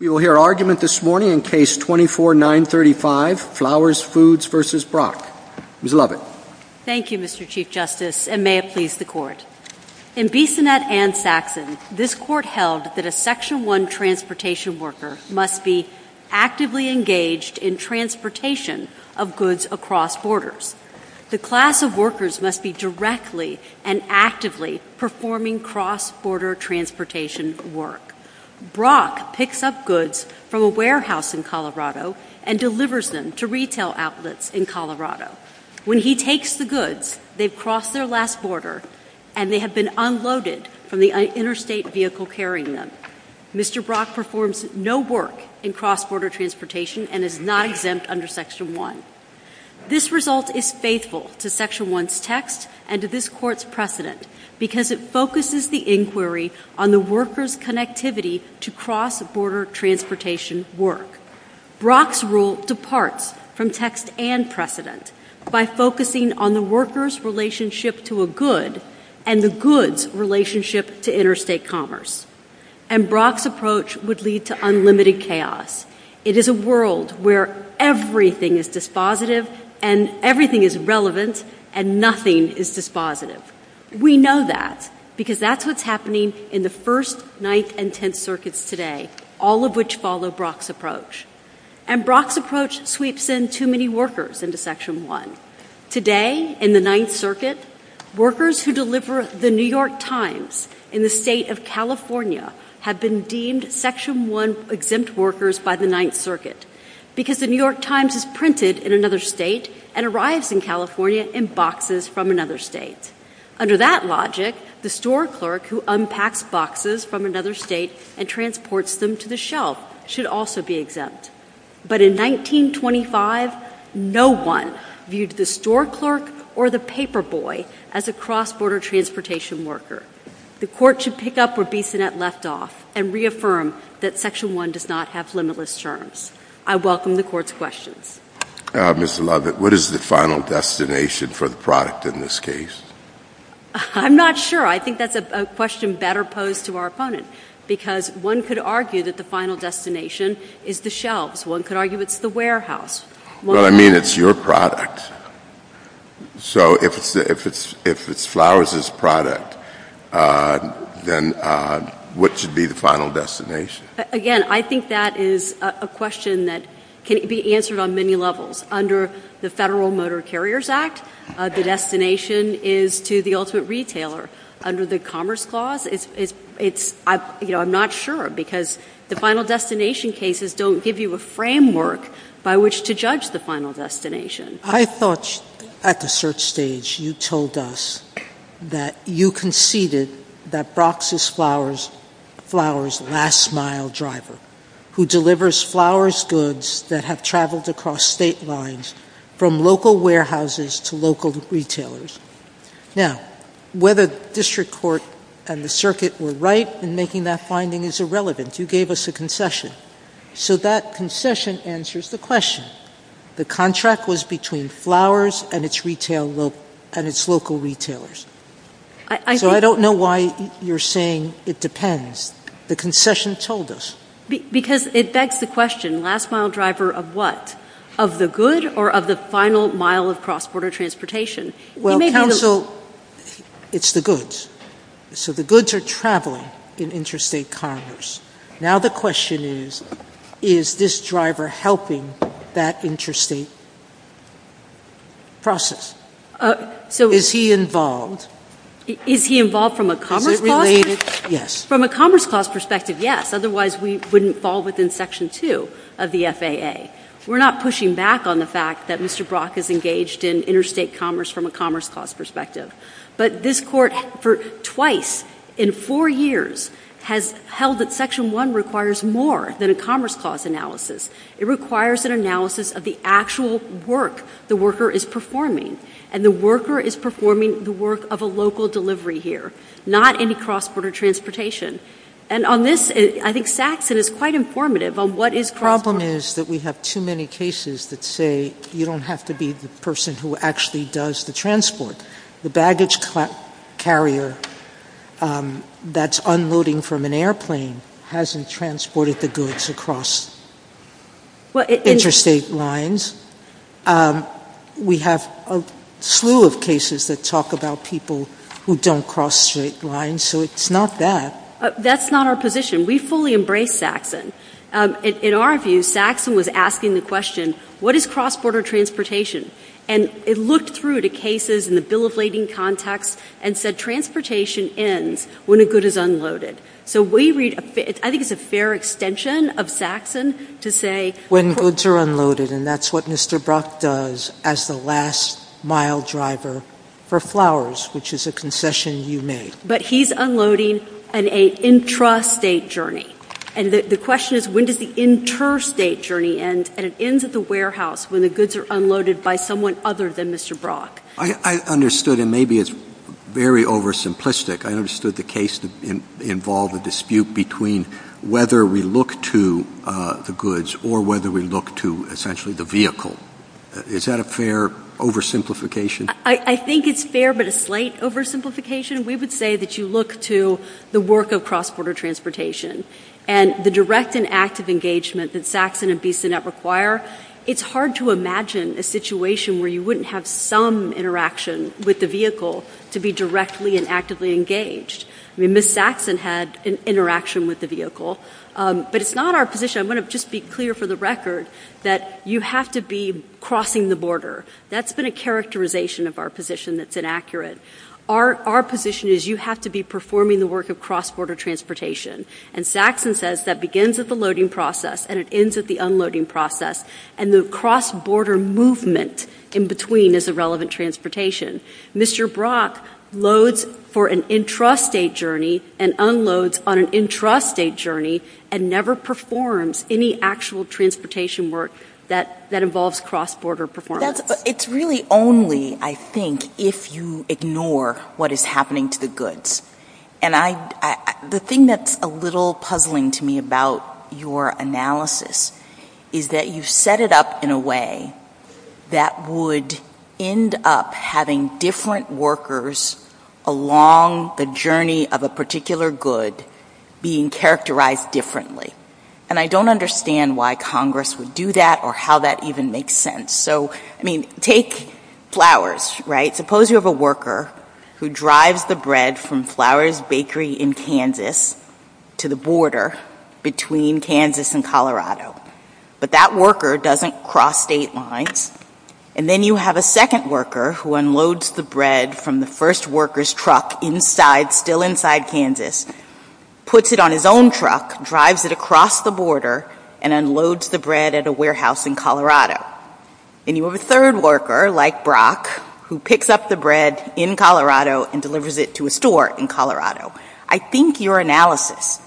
We will hear argument this morning in Case 24-935, Flowers Foods v. Brock. Ms. Lovett. Thank you, Mr. Chief Justice, and may it please the Court. In Bissonnette v. Saxon, this Court held that a Section 1 transportation worker must be actively engaged in transportation of goods across borders. The class of workers must be directly and actively performing cross-border transportation work. Brock picks up goods from a warehouse in Colorado and delivers them to retail outlets in Colorado. When he takes the goods, they've crossed their last border and they have been unloaded from the interstate vehicle carrying them. Mr. Brock performs no work in cross-border transportation and is not exempt under Section 1. This result is faithful to Section 1's text and to this Court's precedent because it focuses the inquiry on the workers' connectivity to cross-border transportation work. Brock's rule departs from text and precedent by focusing on the workers' relationship to a good and the goods' relationship to interstate commerce. And Brock's approach would lead to unlimited chaos. It is a world where everything is dispositive and everything is relevant and nothing is dispositive. We know that because that's what's happening in the First, Ninth, and Tenth Circuits today, all of which follow Brock's approach. And Brock's approach sweeps in too many workers into Section 1. Today, in the Ninth Circuit, workers who deliver the New York Times in the state of California have been deemed Section 1-exempt workers by the Ninth Circuit because the New York Under that logic, the store clerk who unpacks boxes from another state and transports them to the shelf should also be exempt. But in 1925, no one viewed the store clerk or the paperboy as a cross-border transportation worker. The Court should pick up where Bissonnette left off and reaffirm that Section 1 does not have limitless terms. I welcome the Court's questions. Mr. Lovett, what is the final destination for the product in this case? I'm not sure. I think that's a question better posed to our opponents because one could argue that the final destination is the shelves. One could argue it's the warehouse. Well, I mean, it's your product. So if it's Flowers' product, then what should be the final destination? Again, I think that is a question that can be answered on many levels. Under the Federal Motor Carriers Act, the destination is to the ultimate retailer. Under the Commerce Clause, it's, you know, I'm not sure because the final destination cases don't give you a framework by which to judge the final destination. I thought at the search stage you told us that you conceded that Brock's Flowers last mile driver who delivers Flowers' goods that have traveled across state lines from local warehouses to local retailers. Now, whether District Court and the Circuit were right in making that finding is irrelevant. You gave us a concession. So that concession answers the question. The contract was between Flowers and its local retailers. So I don't know why you're saying it depends. The concession told us. Because it begs the question, last mile driver of what? Of the good or of the final mile of cross-border transportation? Well, counsel, it's the goods. So the goods are traveling in interstate commerce. Now the question is, is this driver helping that interstate process? Is he involved? Is he involved from a commerce clause? Yes. From a commerce clause perspective, yes. Otherwise, we wouldn't fall within Section 2 of the FAA. We're not pushing back on the fact that Mr. Brock is engaged in interstate commerce from a commerce clause perspective. But this Court for twice in four years has held that Section 1 requires more than a commerce clause analysis. It requires an analysis of the actual work the worker is performing. And the worker is performing the work of a local delivery here, not any cross-border transportation. And on this, I think Sakson is quite informative on what is... The problem is that we have too many cases that say you don't have to be the person who actually does the transport. The baggage carrier that's unloading from an airplane hasn't transported the goods across interstate lines. We have a slew of cases that talk about people who don't cross state lines. So it's not that. That's not our position. We fully embrace Sakson. In our view, Sakson was asking the question, what is cross-border transportation? And it looked through to cases in the bill of lading context and said transportation ends when a good is unloaded. So we read... I think it's a fair extension of Sakson to say... When goods are unloaded, and that's what Mr. Brock does as the last mile driver for flowers, which is a concession you made. But he's unloading an intrastate journey. And the question is, when does the interstate journey end, and it ends at the warehouse when the goods are unloaded by someone other than Mr. Brock? I understood, and maybe it's very oversimplistic. I understood the case involved with the dispute between whether we look to the goods or whether we look to, essentially, the vehicle. Is that a fair oversimplification? I think it's fair, but a slight oversimplification. We would say that you look to the work of cross-border transportation. And the direct and active engagement that Sakson and BCNET require, it's hard to imagine a situation where you wouldn't have some interaction with the vehicle to be directly and actively engaged. I mean, Ms. Sakson had an interaction with the vehicle, but it's not our position. I want to just be clear for the record that you have to be crossing the border. That's been a characterization of our position that's inaccurate. Our position is you have to be performing the work of cross-border transportation. And Sakson says that begins at the loading process, and it ends at the unloading process. And the cross-border movement in between is irrelevant transportation. Mr. Brock loads for an intrastate journey and unloads on an intrastate journey and never performs any actual transportation work that involves cross-border performance. It's really only, I think, if you ignore what is happening to the goods. And the thing that's a little puzzling to me about your analysis is that you set it up in a way that would end up having different workers along the journey of a particular good being characterized differently. And I don't understand why Congress would do that or how that even makes sense. So, I mean, take flowers, right? Suppose you have a worker who drives the bread from Flowers Bakery in Kansas to the border between Kansas and Colorado. But that worker doesn't cross state lines. And then you have a second worker who unloads the bread from the first worker's truck inside, still inside Kansas, puts it on his own truck, drives it across the border, and unloads the And you have a third worker, like Brock, who picks up the bread in Colorado and delivers it to a store in Colorado. I think your analysis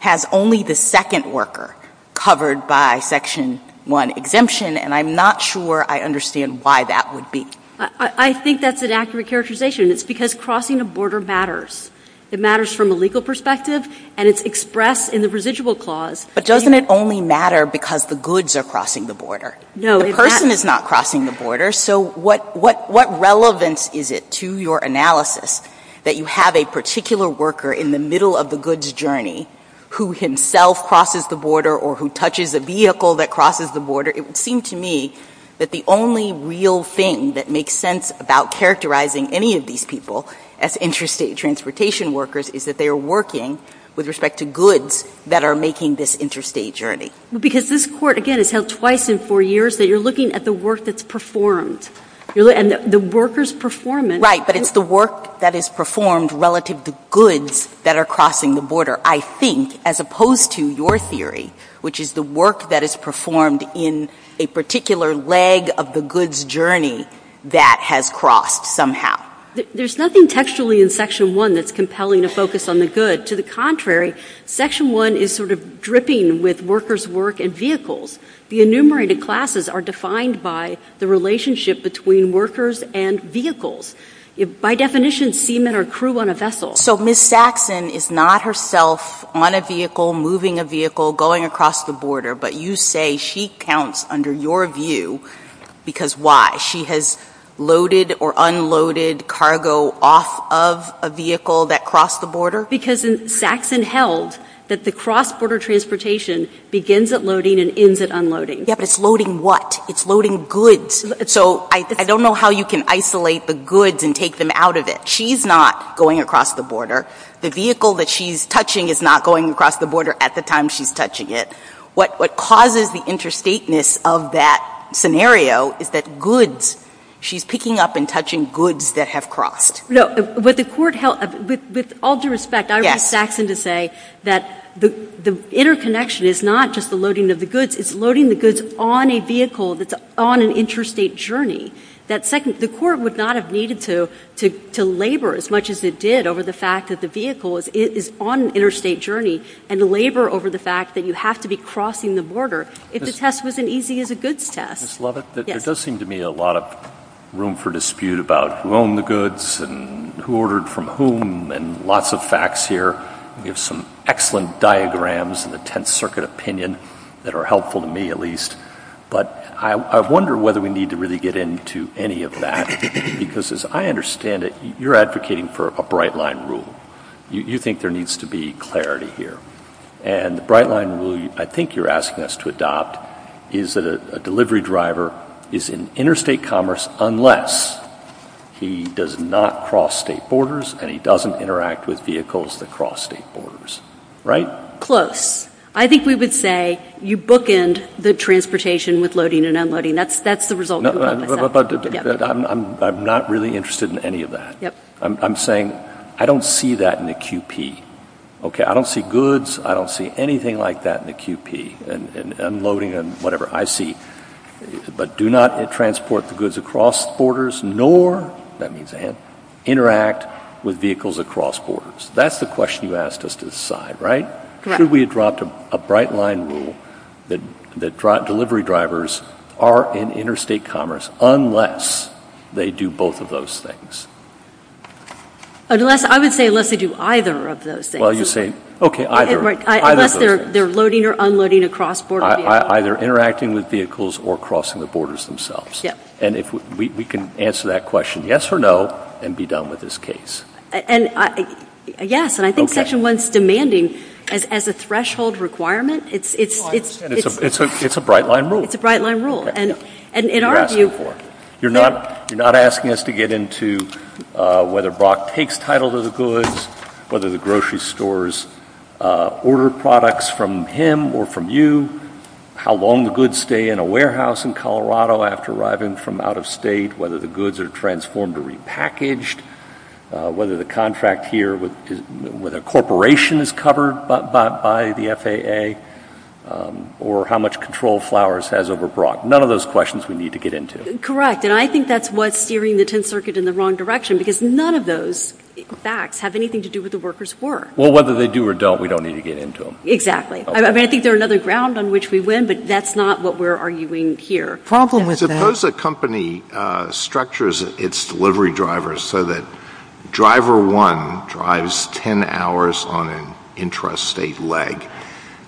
has only the second worker covered by Section 1 exemption, and I'm not sure I understand why that would be. I think that's an accurate characterization. It's because crossing the border matters. It matters from a legal perspective, and it's expressed in the residual clause. But doesn't it only matter because the goods are crossing the border? The person is not crossing the border, so what relevance is it to your analysis that you have a particular worker in the middle of the goods journey who himself crosses the border or who touches a vehicle that crosses the border? It would seem to me that the only real thing that makes sense about characterizing any of these people as interstate transportation workers is that they are working with respect to goods that are making this interstate journey. Because this court, again, has held twice in four years that you're looking at the work that's performed, and the worker's performance... Right, but it's the work that is performed relative to goods that are crossing the border, I think, as opposed to your theory, which is the work that is performed in a particular leg of the goods journey that has crossed somehow. There's nothing textually in Section 1 that's compelling to focus on the good. But to the contrary, Section 1 is sort of dripping with workers' work and vehicles. The enumerated classes are defined by the relationship between workers and vehicles. By definition, seamen are crew on a vessel. So Ms. Saxon is not herself on a vehicle, moving a vehicle, going across the border, but you say she counts under your view because why? She has loaded or unloaded cargo off of a vehicle that crossed the border? Because Saxon held that the cross-border transportation begins at loading and ends at unloading. Yeah, but it's loading what? It's loading goods. So I don't know how you can isolate the goods and take them out of it. She's not going across the border. The vehicle that she's touching is not going across the border at the time she's touching it. What causes the interstateness of that scenario is that goods, she's picking up and touching goods that have crossed. No, but the court held, with all due respect, I would ask Saxon to say that the interconnection is not just the loading of the goods, it's loading the goods on a vehicle that's on an interstate journey. That second, the court would not have needed to labor as much as it did over the fact that the vehicle is on an interstate journey and labor over the fact that you have to be crossing the border if the test wasn't easy as a goods test. Ms. Lovett, there does seem to be a lot of room for dispute about who owned the goods and who ordered from whom and lots of facts here. We have some excellent diagrams in the Tenth Circuit opinion that are helpful to me at least, but I wonder whether we need to really get into any of that because as I understand it, you're advocating for a bright line rule. You think there needs to be clarity here. The bright line rule I think you're asking us to adopt is that a delivery driver is in interstate commerce unless he does not cross state borders and he doesn't interact with vehicles that cross state borders, right? Close. I think we would say you bookend the transportation with loading and unloading. That's the result. But I'm not really interested in any of that. I'm saying I don't see that in the QP. Okay, I don't see goods. I don't see anything like that in the QP and unloading and whatever. I see, but do not transport the goods across borders nor, that means, interact with vehicles across borders. That's the question you asked us to decide, right? Correct. Should we adopt a bright line rule that delivery drivers are in interstate commerce unless they do both of those things? I would say unless they do either of those things. Okay, either. Unless they're loading or unloading across borders. Either interacting with vehicles or crossing the borders themselves. Yes. And we can answer that question yes or no and be done with this case. Yes, and I think Section 1 is demanding as a threshold requirement. It's a bright line rule. It's a bright line rule. You're not asking us to get into whether Brock takes title to the goods, whether the grocery stores order products from him or from you, how long the goods stay in a warehouse in Colorado after arriving from out of state, whether the goods are transformed or repackaged, whether the contract here with a corporation is covered by the FAA, or how much control Flowers has over Brock. None of those questions we need to get into. And I think that's what's steering the Tenth Circuit in the wrong direction because none of those facts have anything to do with the workers' work. Well, whether they do or don't, we don't need to get into them. Exactly. I mean, I think they're another ground on which we win, but that's not what we're arguing here. The problem with that— Suppose a company structures its delivery drivers so that Driver 1 drives 10 hours on an intrastate leg,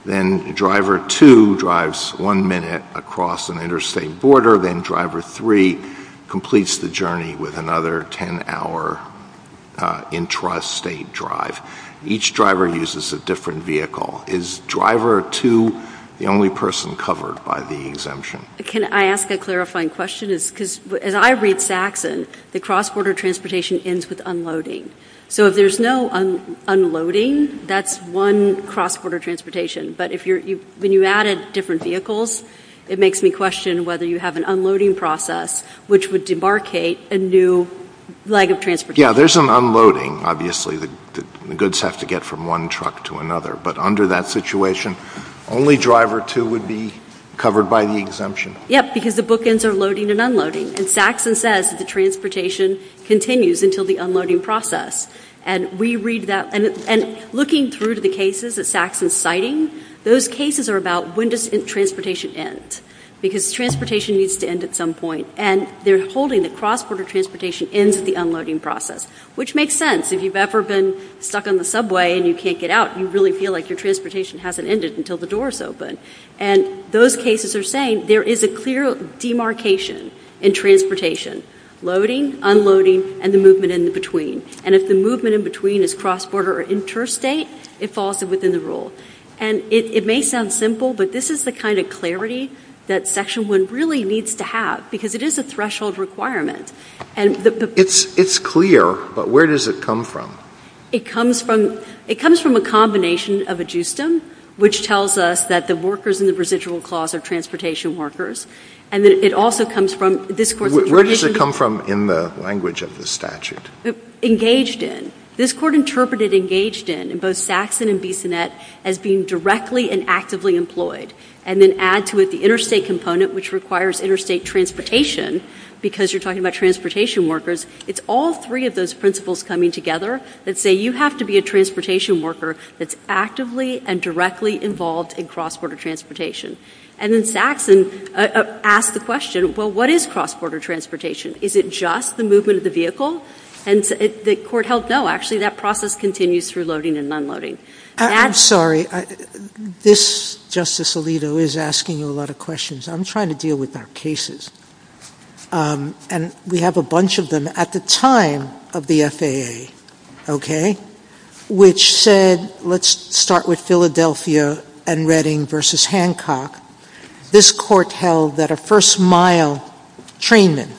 then Driver 2 drives one minute across an interstate border, then Driver 3 completes the journey with another 10-hour intrastate drive. Each driver uses a different vehicle. Is Driver 2 the only person covered by the exemption? Can I ask a clarifying question? As I read Saxon, the cross-border transportation ends with unloading. So if there's no unloading, that's one cross-border transportation. But when you added different vehicles, it makes me question whether you have an unloading process, which would debarkate a new leg of transportation. Yeah, there's an unloading, obviously. The goods have to get from one truck to another. But under that situation, only Driver 2 would be covered by the exemption. Yes, because the bookends are loading and unloading. And Saxon says that the transportation continues until the unloading process. And looking through the cases that Saxon's citing, those cases are about when does transportation end, because transportation needs to end at some point. And they're holding the cross-border transportation into the unloading process, which makes sense. If you've ever been stuck on the subway and you can't get out, you really feel like your transportation hasn't ended until the door is open. And those cases are saying there is a clear demarcation in transportation. Loading, unloading, and the movement in between. And if the movement in between is cross-border or interstate, it falls within the rule. And it may sound simple, but this is the kind of clarity that Section 1 really needs to have, because it is a threshold requirement. It's clear, but where does it come from? It comes from a combination of a justum, which tells us that the workers in the residual clause are transportation workers. And then it also comes from this court's interpretation. Where does it come from in the language of the statute? Engaged in. This court interpreted engaged in, in both Saxon and Bissonnette, as being directly and actively employed. And then adds to it the interstate component, which requires interstate transportation, because you're talking about transportation workers. It's all three of those principles coming together that say you have to be a transportation worker that's actively and directly involved in cross-border transportation. And then Saxon asked the question, well, what is cross-border transportation? Is it just the movement of the vehicle? And the court held no, actually, that process continues through loading and unloading. I'm sorry. This, Justice Alito, is asking you a lot of questions. I'm trying to deal with our cases. And we have a bunch of them at the time of the FAA. Which said, let's start with Philadelphia and Redding versus Hancock. This court held that a first mile trainman,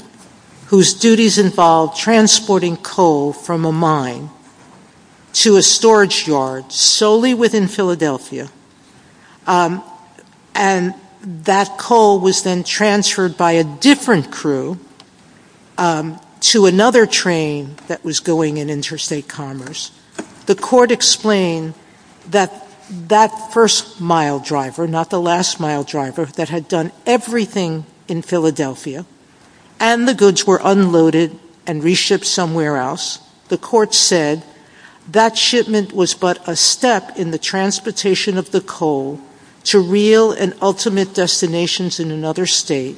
whose duties involved transporting coal from a mine to a storage yard solely within Philadelphia, and that coal was then transferred by a different crew to another train that was going in interstate commerce. The court explained that that first mile driver, not the last mile driver, that had done everything in Philadelphia, and the goods were unloaded and reshipped somewhere else, the court said that shipment was but a step in the transportation of the coal to real and ultimate destinations in another state.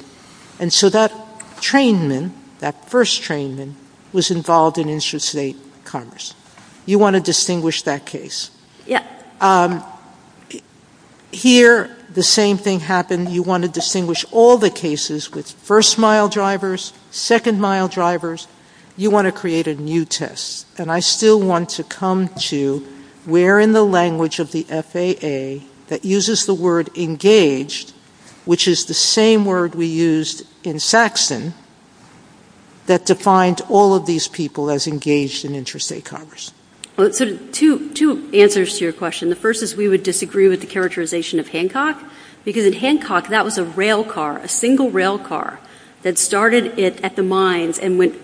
And so that trainman, that first trainman, was involved in interstate commerce. You want to distinguish that case. Here, the same thing happened. You want to distinguish all the cases with first mile drivers, second mile drivers. You want to create a new test. And I still want to come to where in the language of the FAA that uses the word engaged, which is the same word we used in Saxton, that defined all of these people as engaged in interstate commerce. Two answers to your question. The first is we would disagree with the characterization of Hancock, because in Hancock, that was a rail car, a single rail car that started at the mines and went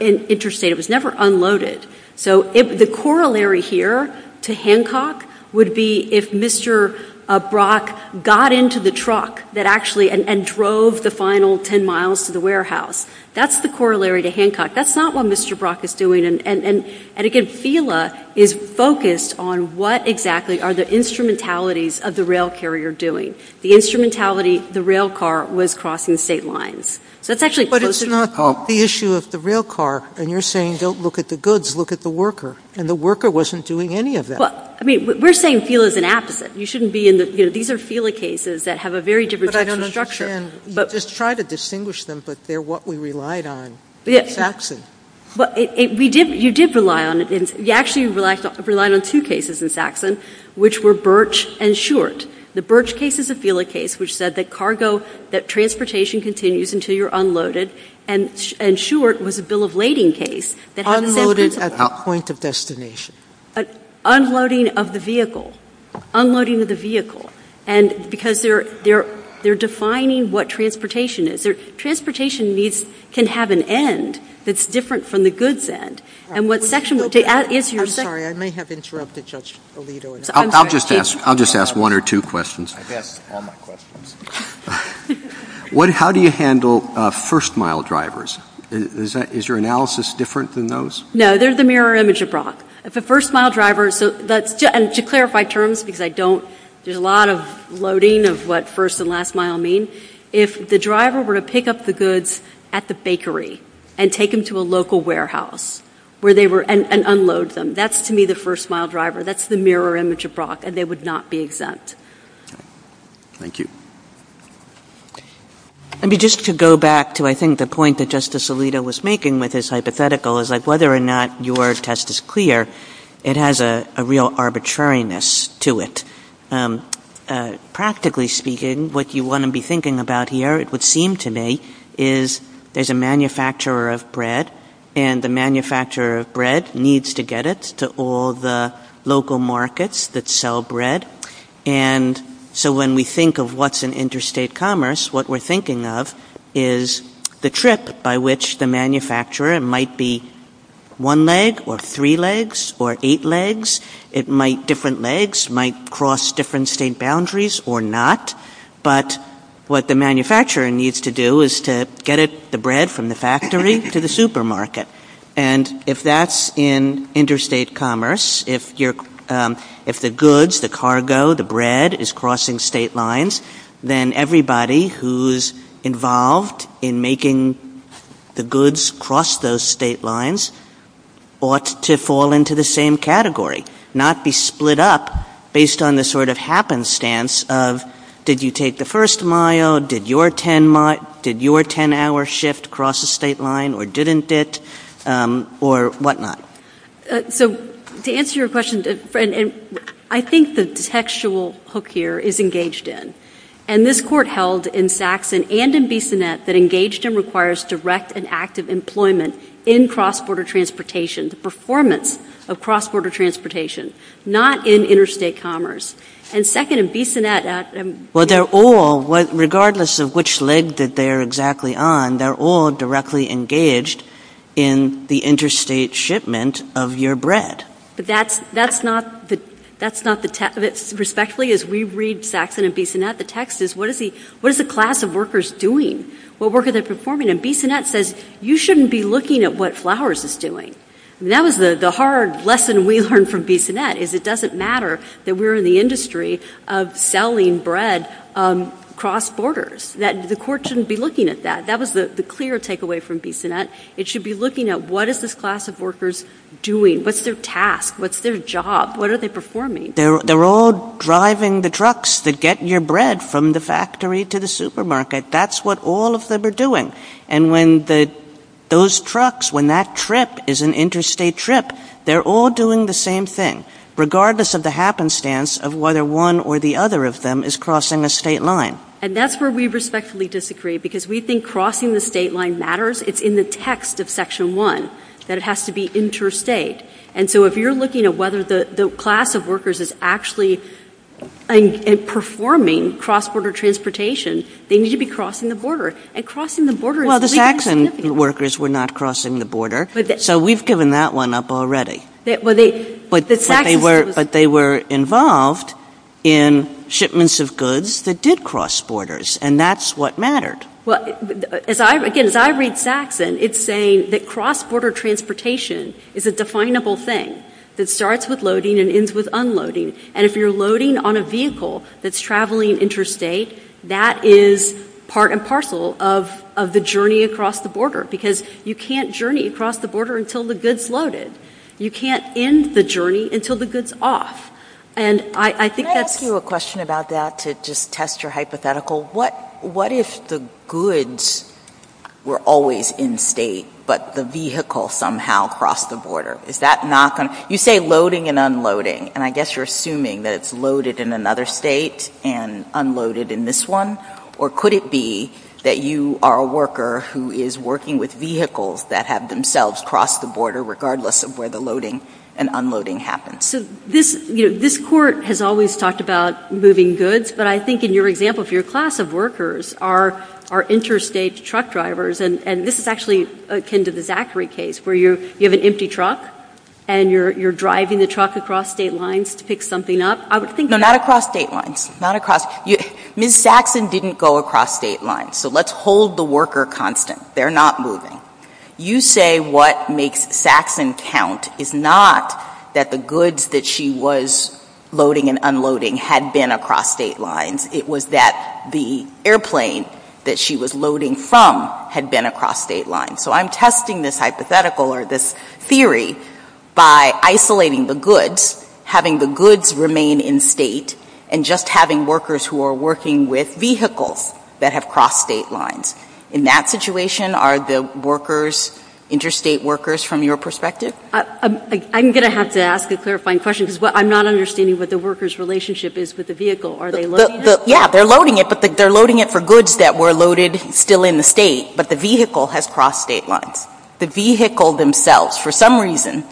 interstate. It was never unloaded. The corollary here to Hancock would be if Mr. Brock got into the truck and drove the final ten miles to the warehouse. That's the corollary to Hancock. That's not what Mr. Brock is doing. And again, FILA is focused on what exactly are the instrumentalities of the rail carrier doing. The instrumentality, the rail car was crossing state lines. But it's not the issue of the rail car. And you're saying don't look at the goods, look at the worker. And the worker wasn't doing any of that. We're saying FILA is an asset. These are FILA cases that have a very different type of structure. But I don't understand. Just try to distinguish them, but they're what we relied on in Saxton. You did rely on it. You actually relied on two cases in Saxton, which were Birch and Short. The Birch case is a FILA case, which said that transportation continues until you're unloaded. And Short was a bill of lading case. Unloading at the point of destination. Unloading of the vehicle. Unloading of the vehicle. And because they're defining what transportation is. Transportation can have an end that's different from the goods end. I'm sorry. I may have interrupted Judge Alito. I'll just ask one or two questions. I've asked all my questions. How do you handle first mile drivers? Is your analysis different than those? No, there's a mirror image of Brock. The first mile driver, and to clarify terms because I don't do a lot of loading of what first and last mile mean, if the driver were to pick up the goods at the bakery and take them to a local warehouse and unload them, that's to me the first mile driver. That's the mirror image of Brock. And they would not be exempt. Thank you. Let me just go back to I think the point that Justice Alito was making with his hypothetical is like whether or not your test is clear, it has a real arbitrariness to it. Practically speaking, what you want to be thinking about here, it would seem to me, is there's a manufacturer of bread. And the manufacturer of bread needs to get it to all the local markets that sell bread. And so when we think of what's in interstate commerce, what we're thinking of is the trip by which the manufacturer might be one leg or three legs or eight legs. It might, different legs might cross different state boundaries or not. But what the manufacturer needs to do is to get the bread from the factory to the supermarket. And if that's in interstate commerce, if the goods, the cargo, the bread is crossing state lines, then everybody who's involved in making the goods cross those state lines ought to Did you take the first mile? Did your 10-hour shift cross the state line or didn't it or whatnot? To answer your question, I think the textual hook here is engaged in. And this court held in Saxon and in Bissonnette that engaged in requires direct and active employment in cross-border transportation, the performance of cross-border transportation, not in interstate commerce. Well, they're all, regardless of which leg that they're exactly on, they're all directly engaged in the interstate shipment of your bread. That's not the, respectfully as we read Saxon and Bissonnette, the text is what is the class of workers doing? What work are they performing? And Bissonnette says you shouldn't be looking at what Flowers is doing. That was the hard lesson we learned from Bissonnette is it doesn't matter that we're in the industry of selling bread cross-borders, that the court shouldn't be looking at that. That was the clear takeaway from Bissonnette. It should be looking at what is this class of workers doing? What's their task? What's their job? What are they performing? They're all driving the trucks that get your bread from the factory to the supermarket. That's what all of them are doing. And when those trucks, when that trip is an interstate trip, they're all doing the same thing, regardless of the happenstance of whether one or the other of them is crossing a state line. And that's where we respectfully disagree because we think crossing the state line matters. It's in the text of Section 1 that it has to be interstate. And so if you're looking at whether the class of workers is actually performing cross-border transportation, they need to be crossing the border. And crossing the border is really significant. Well, the Saxon workers were not crossing the border, so we've given that one up already. But they were involved in shipments of goods that did cross borders, and that's what mattered. Well, again, as I read Saxon, it's saying that cross-border transportation is a definable thing. It starts with loading and ends with unloading. And if you're loading on a vehicle that's traveling interstate, that is part and parcel of the journey across the border because you can't journey across the border until the goods loaded. You can't end the journey until the goods off. And I think that's... Can I ask you a question about that to just test your hypothetical? What if the goods were always in state, but the vehicle somehow crossed the border? Is that not going to... You say loading and unloading, and I guess you're assuming that it's loaded in another state and unloaded in this one? Or could it be that you are a worker who is working with vehicles that have themselves crossed the border, regardless of where the loading and unloading happens? So this court has always talked about moving goods, but I think in your example, if your class of workers are interstate truck drivers, and this is actually akin to the Zachary case where you have an empty truck and you're driving the truck across state lines to pick something up, I would think that... No, not across state lines. Not across... Ms. Saxon didn't go across state lines, so let's hold the worker constant. They're not moving. You say what makes Saxon count is not that the goods that she was loading and unloading had been across state lines. It was that the airplane that she was loading from had been across state lines. So I'm testing this hypothetical, or this theory, by isolating the goods, having the goods remain in state, and just having workers who are working with vehicles that have crossed state lines. In that situation, are the workers interstate workers from your perspective? I'm going to have to ask a clarifying question, because I'm not understanding what the workers' relationship is with the vehicle. Are they loading it? Yeah, they're loading it, but they're loading it for goods that were loaded still in the state, but the vehicle has crossed state lines. The vehicle themselves, for some reason,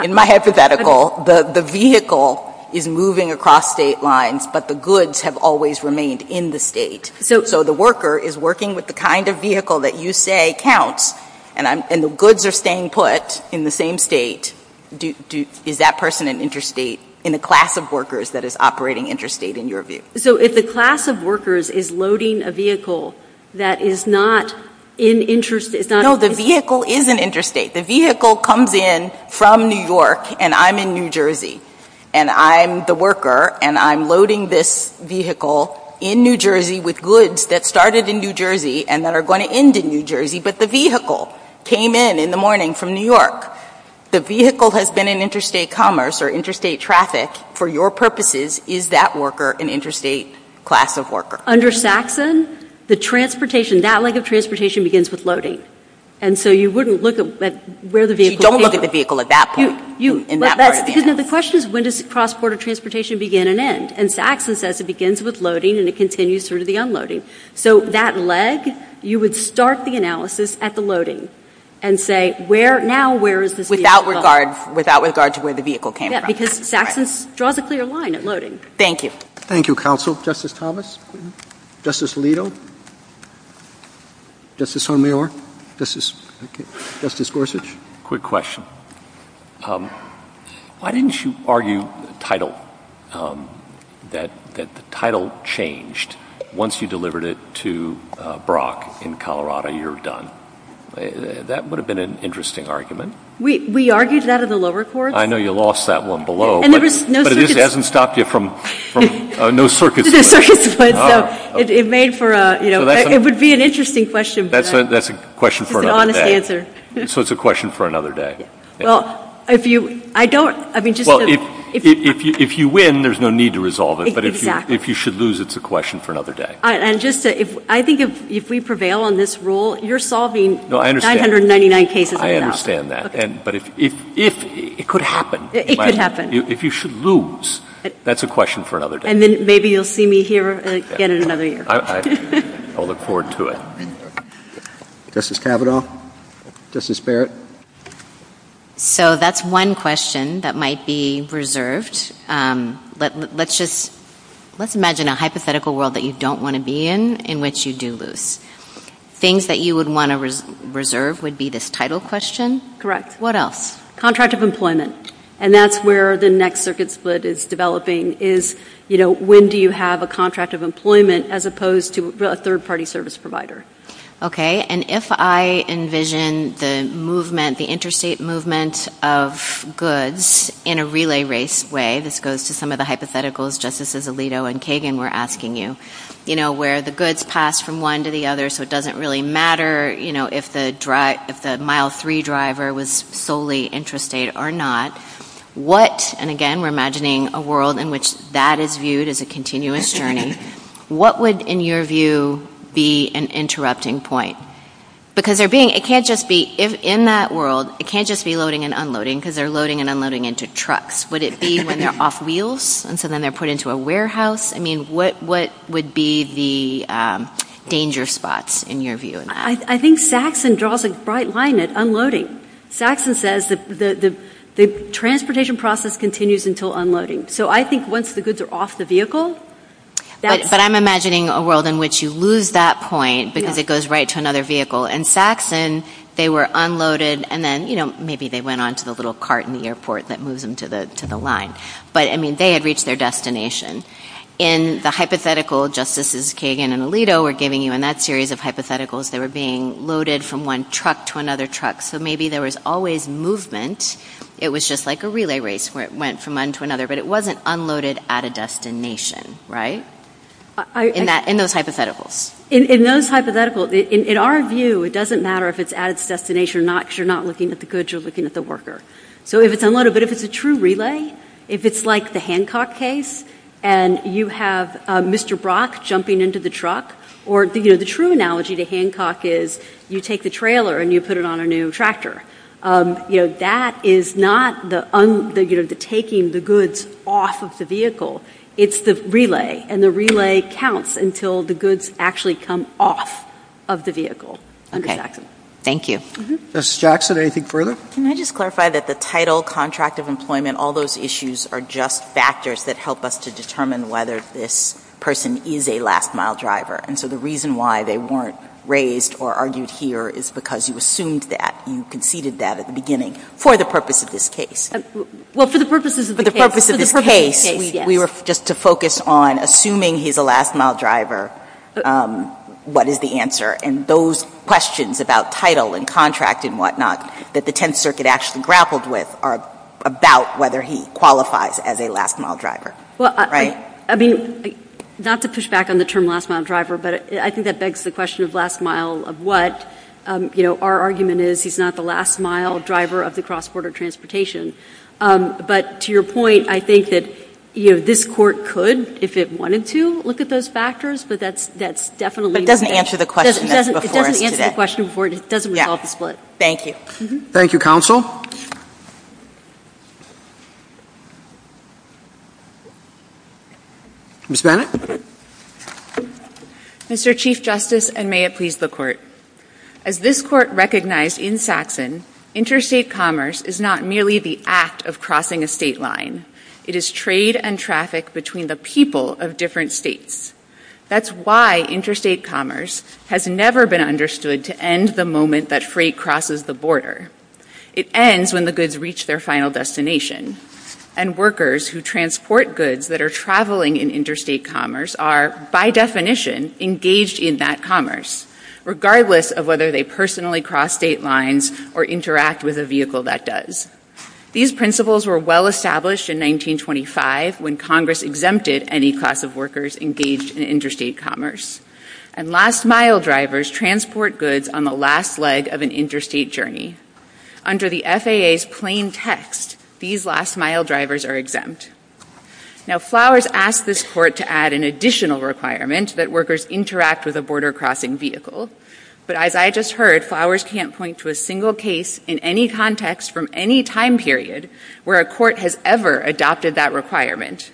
in my hypothetical, the vehicle is moving across state lines, but the goods have always remained in the state. So the worker is working with the kind of vehicle that you say counts, and the goods are staying put in the same state. Is that person an interstate, in a class of workers that is operating interstate, in your view? So if a class of workers is loading a vehicle that is not in interstate... No, the vehicle is an interstate. The vehicle comes in from New York, and I'm in New Jersey, and I'm the worker, and I'm loading this vehicle in New Jersey with goods that started in New Jersey and that are going to end in New Jersey, but the vehicle came in in the morning from New York. The vehicle has been in interstate commerce or interstate traffic for your purposes. Is that worker an interstate class of worker? Under Saxon, the transportation, that leg of transportation begins with loading, and so you wouldn't look at where the vehicle... You don't look at the vehicle at that point. The question is when does cross-border transportation begin and end, and Saxon says it begins with loading and it continues through to the unloading. So that leg, you would start the analysis at the loading and say, now where is this vehicle going? Without regard to where the vehicle came from. Because Saxon draws a clear line at loading. Thank you. Thank you, counsel. Justice Thomas? Justice Alito? Justice Homayore? Justice Gorsuch? Quick question. Why didn't you argue the title, that the title changed once you delivered it to Brock in Colorado, you're done? That would have been an interesting argument. We argued that at the lower court. I know you lost that one below, but it hasn't stopped you from... No circuits. It would be an interesting question. That's a question for another day. So it's a question for another day. If you win, there's no need to resolve it, but if you should lose, it's a question for another day. I think if we prevail on this rule, you're solving 999 cases. I understand that. It could happen. It could happen. If you should lose, that's a question for another day. And then maybe you'll see me here again in another year. I'll look forward to it. Justice Kavanaugh? Justice Barrett? So that's one question that might be reserved. Let's imagine a hypothetical world that you don't want to be in, in which you do lose. Things that you would want to reserve would be this title question? Correct. What else? Contract of employment. And that's where the next circuit split is developing is, you know, when do you have a contract of employment as opposed to a third-party service provider? Okay. And if I envision the movement, the interstate movement of goods in a relay race way, this goes to some of the hypotheticals Justices Alito and Kagan were asking you, you know, where the goods pass from one to the other so it doesn't really matter, you know, if the mile-three driver was solely interstate or not. What, and again, we're imagining a world in which that is viewed as a continuous journey. What would, in your view, be an interrupting point? Because there being, it can't just be, in that world, it can't just be loading and unloading because they're loading and unloading into trucks. Would it be when they're off wheels and so then they're put into a warehouse? I mean, what would be the danger spots, in your view, in that? I think Saxon draws a bright line at unloading. Saxon says that the transportation process continues until unloading. So I think once the goods are off the vehicle... But I'm imagining a world in which you lose that point because it goes right to another vehicle. In Saxon, they were unloaded and then, you know, maybe they went on to the little cart in the airport that moves them to the line. But, I mean, they had reached their destination. In the hypothetical Justices Kagan and Alito were giving you in that series of hypotheticals, they were being loaded from one truck to another truck. So maybe there was always movement. It was just like a relay race where it went from one to another. But it wasn't unloaded at a destination, right? In those hypotheticals. In those hypotheticals, in our view, it doesn't matter if it's at its destination or not because you're not looking at the goods, you're looking at the worker. So if it's unloaded, but if it's a true relay, if it's like the Hancock case and you have Mr. Brock jumping into the truck or, you know, the true analogy to Hancock is you take the trailer and you put it on a new tractor. You know, that is not the taking the goods off of the vehicle. It's the relay. And the relay counts until the goods actually come off of the vehicle. Okay. Thank you. Ms. Jackson, anything further? Can I just clarify that the title, contract of employment, all those issues are just factors that help us to determine whether this person is a last-mile driver. And so the reason why they weren't raised or argued here is because you assumed that, you conceded that at the beginning for the purpose of this case. Well, for the purposes of the case. For the purposes of the case. We were just to focus on assuming he's a last-mile driver, what is the answer? And those questions about title and contract and whatnot that the Tenth Circuit actually grappled with are about whether he qualifies as a last-mile driver. Right? Well, I mean, not to push back on the term last-mile driver, but I think that begs the question of last mile of what, you know, our argument is he's not the last-mile driver of the cross-border transportation. But to your point, I think that, you know, this Court could, if it wanted to, look at those factors, but that's definitely... But it doesn't answer the question before us today. It doesn't answer the question before us. It doesn't resolve the split. Thank you. Thank you, Counsel. Who's that? Mr. Chief Justice, and may it please the Court. As this Court recognized in Saxon, interstate commerce is not merely the act of crossing a state line. It is trade and traffic between the people of different states. That's why interstate commerce has never been understood to end the moment that freight crosses the border. It ends when the goods reach their final destination. And workers who transport goods that are traveling in interstate commerce are, by definition, engaged in that commerce, regardless of whether they personally cross state lines or interact with a vehicle that does. These principles were well-established in 1925 when Congress exempted any class of workers engaged in interstate commerce. And last-mile drivers transport goods on the last leg of an interstate journey. Under the FAA's plain text, these last-mile drivers are exempt. Now, Flowers asked this Court to add an additional requirement that workers interact with a border crossing vehicle. But as I just heard, Flowers can't point to a single case in any context from any time period where a court has ever adopted that requirement.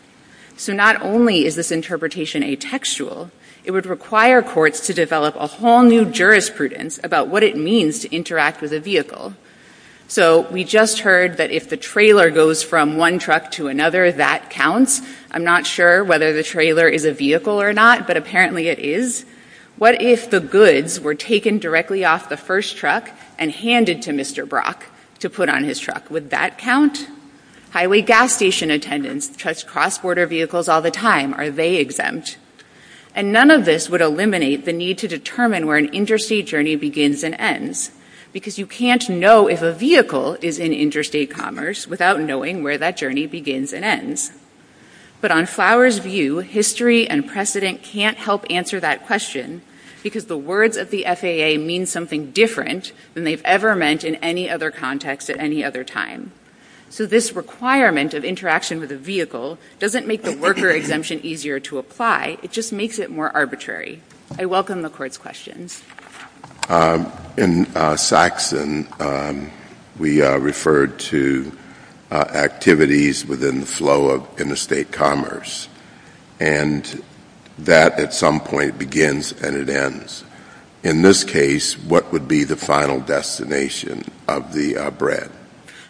So not only is this interpretation atextual, it would require courts to develop a whole new jurisprudence about what it means to interact with a vehicle. So we just heard that if the trailer goes from one truck to another, that counts. I'm not sure whether the trailer is a vehicle or not, but apparently it is. What if the goods were taken directly off the first truck and handed to Mr. Brock to put on his truck? Would that count? Highway gas station attendants trust cross-border vehicles all the time. Are they exempt? And none of this would eliminate the need to determine where an interstate journey begins and ends, because you can't know if a vehicle is in interstate commerce without knowing where that journey begins and ends. But on Flowers' view, history and precedent can't help answer that question, because the words of the FAA mean something different than they've ever meant in any other context at any other time. So this requirement of interaction with a vehicle doesn't make the worker exemption easier to apply. It just makes it more arbitrary. I welcome the Court's questions. In Saxon, we referred to activities within the flow of interstate commerce, and that at some point begins and it ends. In this case, what would be the final destination of the bread?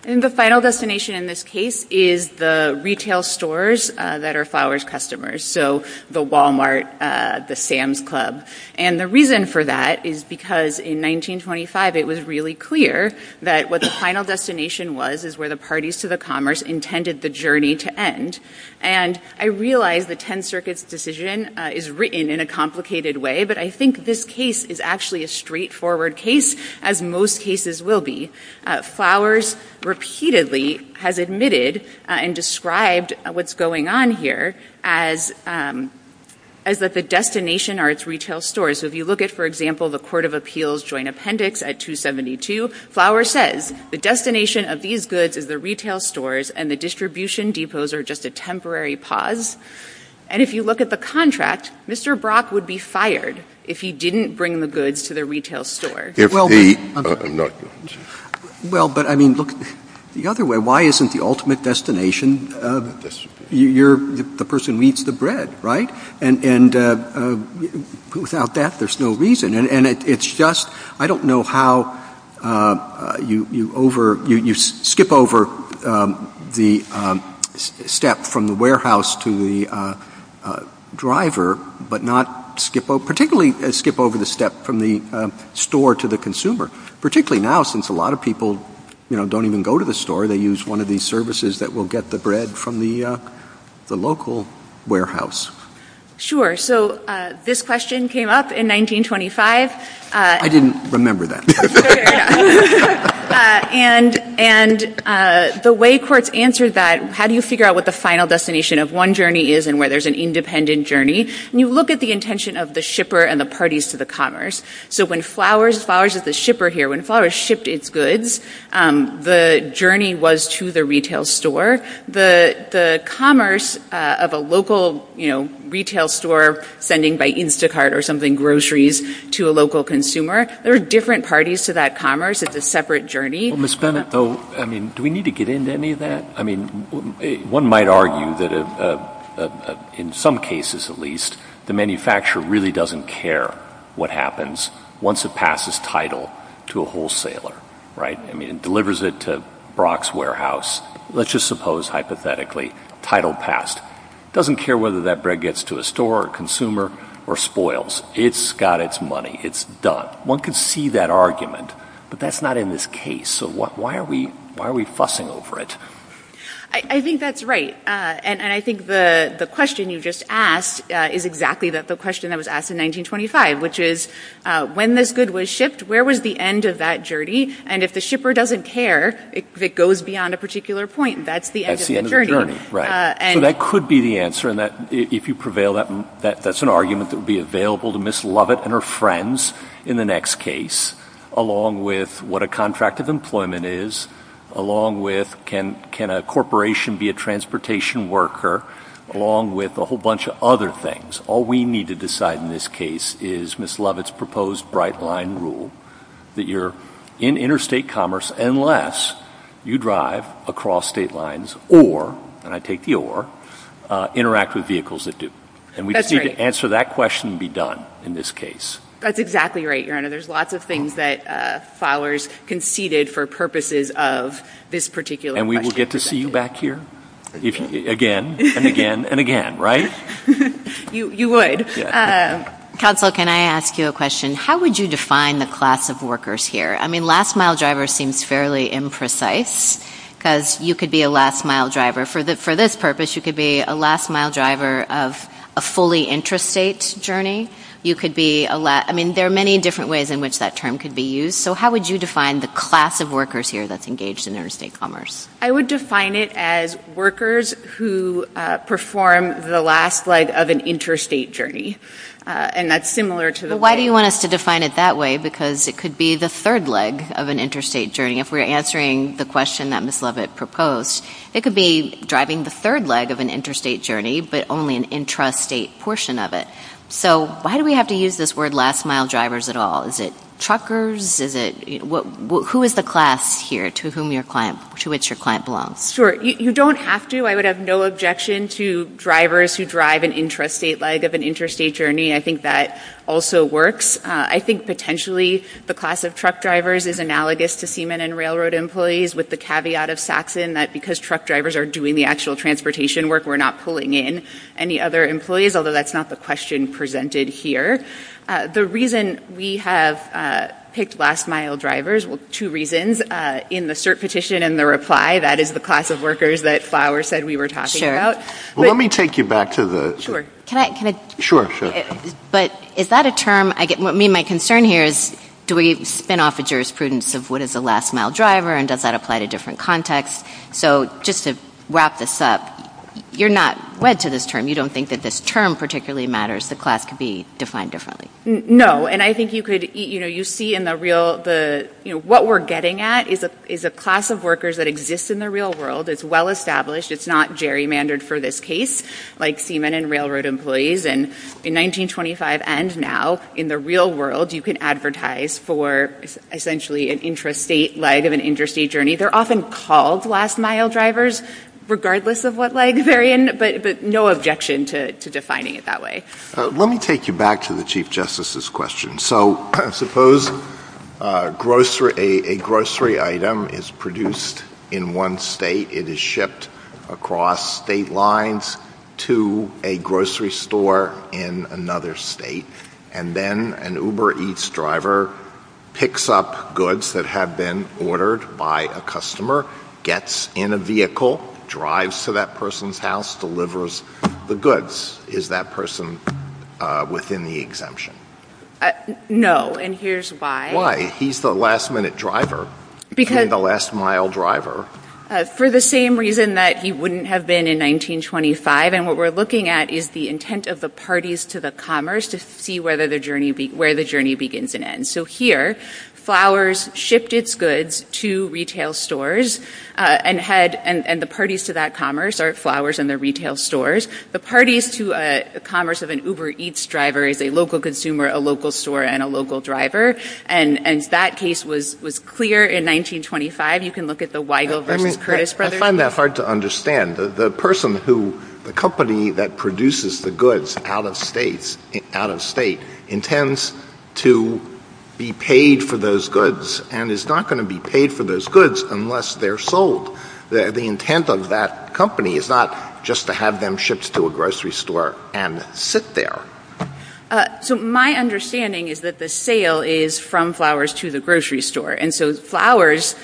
And the final destination in this case is the retail stores that are Flowers' customers, so the Walmart, the Sam's Club. And the reason for that is because in 1925, it was really clear that what the final destination was is where the parties to the commerce intended the journey to end. And I realize the Tenth Circuit's decision is written in a complicated way, but I think this case is actually a straightforward case, as most cases will be. Flowers repeatedly has admitted and described what's going on here as that the destination are its retail stores. So if you look at, for example, the Court of Appeals Joint Appendix at 272, Flowers says the destination of these goods is the retail stores, and the distribution depots are just a temporary pause. And if you look at the contract, Mr. Brock would be fired if he didn't bring the goods to the retail store. Well, but I mean, look, the other way, why isn't the ultimate destination, the person eats the bread, right? And without that, there's no reason. And it's just, I don't know how you skip over the step from the warehouse to the driver, but not skip over, particularly skip over the step from the store to the consumer. Particularly now, since a lot of people don't even go to the store, they use one of these services that will get the bread from the local warehouse. Sure. So this question came up in 1925. I didn't remember that. And the way courts answered that, how do you figure out what the final destination of one And you look at the intention of the shipper and the parties to the commerce. So when Flowers, as far as the shipper here, when Flowers shipped its goods, the journey was to the retail store. The commerce of a local retail store sending by Instacart or something groceries to a local consumer, there are different parties to that commerce. It's a separate journey. Well, Ms. Bennett, though, I mean, do we need to get into any of that? I mean, one might argue that in some cases, at least, the manufacturer really doesn't care what happens once it passes title to a wholesaler, right? I mean, it delivers it to Brock's Warehouse. Let's just suppose, hypothetically, title passed. It doesn't care whether that bread gets to a store or a consumer or spoils. It's got its money. It's done. One can see that argument, but that's not in this case. So why are we fussing over it? I think that's right, and I think the question you just asked is exactly the question that was asked in 1925, which is, when this good was shipped, where was the end of that journey? And if the shipper doesn't care, if it goes beyond a particular point, that's the end of the journey. That's the end of the journey, right. So that could be the answer in that, if you prevail, that's an argument that would be along with, can a corporation be a transportation worker, along with a whole bunch of other things. All we need to decide in this case is Ms. Lovett's proposed bright line rule, that you're in interstate commerce unless you drive across state lines or, and I take the or, interact with vehicles that do. And we just need to answer that question and be done in this case. That's exactly right, Your Honor. There's lots of things that followers conceded for purposes of this particular question. And we will get to see you back here again and again and again, right? You would. Counsel, can I ask you a question? How would you define the class of workers here? I mean, last mile driver seems fairly imprecise, because you could be a last mile driver. For this purpose, you could be a last mile driver of a fully interstate journey. You could be a, I mean, there are many different ways in which that term could be used. So how would you define the class of workers here that's engaged in interstate commerce? I would define it as workers who perform the last leg of an interstate journey. And that's similar to the way. Why do you want us to define it that way? Because it could be the third leg of an interstate journey. If we're answering the question that Ms. Lovett proposed, it could be driving the third leg of an interstate journey, but only an intrastate portion of it. So why do we have to use this word last mile drivers at all? Is it truckers? Who is the class here to whom your client, to which your client belongs? Sure. You don't have to. I would have no objection to drivers who drive an intrastate leg of an interstate journey. I think that also works. I think potentially the class of truck drivers is analogous to seamen and railroad employees with the caveat of Saxon that because truck drivers are doing the actual transportation work, we're not pulling in any other employees, although that's not the question presented here. The reason we have picked last mile drivers, two reasons, in the cert petition and the reply, that is the class of workers that Flower said we were talking about. Sure. Let me take you back to the... Sure. Can I... Sure, sure. But is that a term... I mean, my concern here is do we spin off the jurisprudence of what is a last mile driver and does that apply to different contexts? So just to wrap this up, you're not led to this term. You don't think that this term particularly matters. The class could be defined differently. No. And I think you could... You see in the real... What we're getting at is a class of workers that exist in the real world. It's well-established. It's not gerrymandered for this case, like seamen and railroad employees. And in 1925 and now, in the real world, you can advertise for essentially an intrastate leg of an interstate journey. They're often called last mile drivers, regardless of what leg they're in, but no objection to defining it that way. Let me take you back to the Chief Justice's question. So suppose a grocery item is produced in one state. It is shipped across state lines to a grocery store in another state, and then an Uber Eats driver picks up goods that have been ordered by a customer, gets in a vehicle, drives to that person's house, delivers the goods. Is that person within the exemption? No. And here's why. Why? He's the last minute driver. He's the last mile driver. For the same reason that he wouldn't have been in 1925. And what we're looking at is the intent of the parties to the commerce to see where the journey begins and ends. So here, flowers shift its goods to retail stores, and the parties to that commerce are flowers in the retail stores. The parties to commerce of an Uber Eats driver is a local consumer, a local store, and a local driver. And that case was clear in 1925. You can look at the Weigel versus Curtis brothers. I find that hard to understand. The person who, the company that produces the goods out of state, intends to be paid for those goods and is not going to be paid for those goods unless they're sold. The intent of that company is not just to have them shipped to a grocery store and sit there. So my understanding is that the sale is from flowers to the grocery store, and so flowers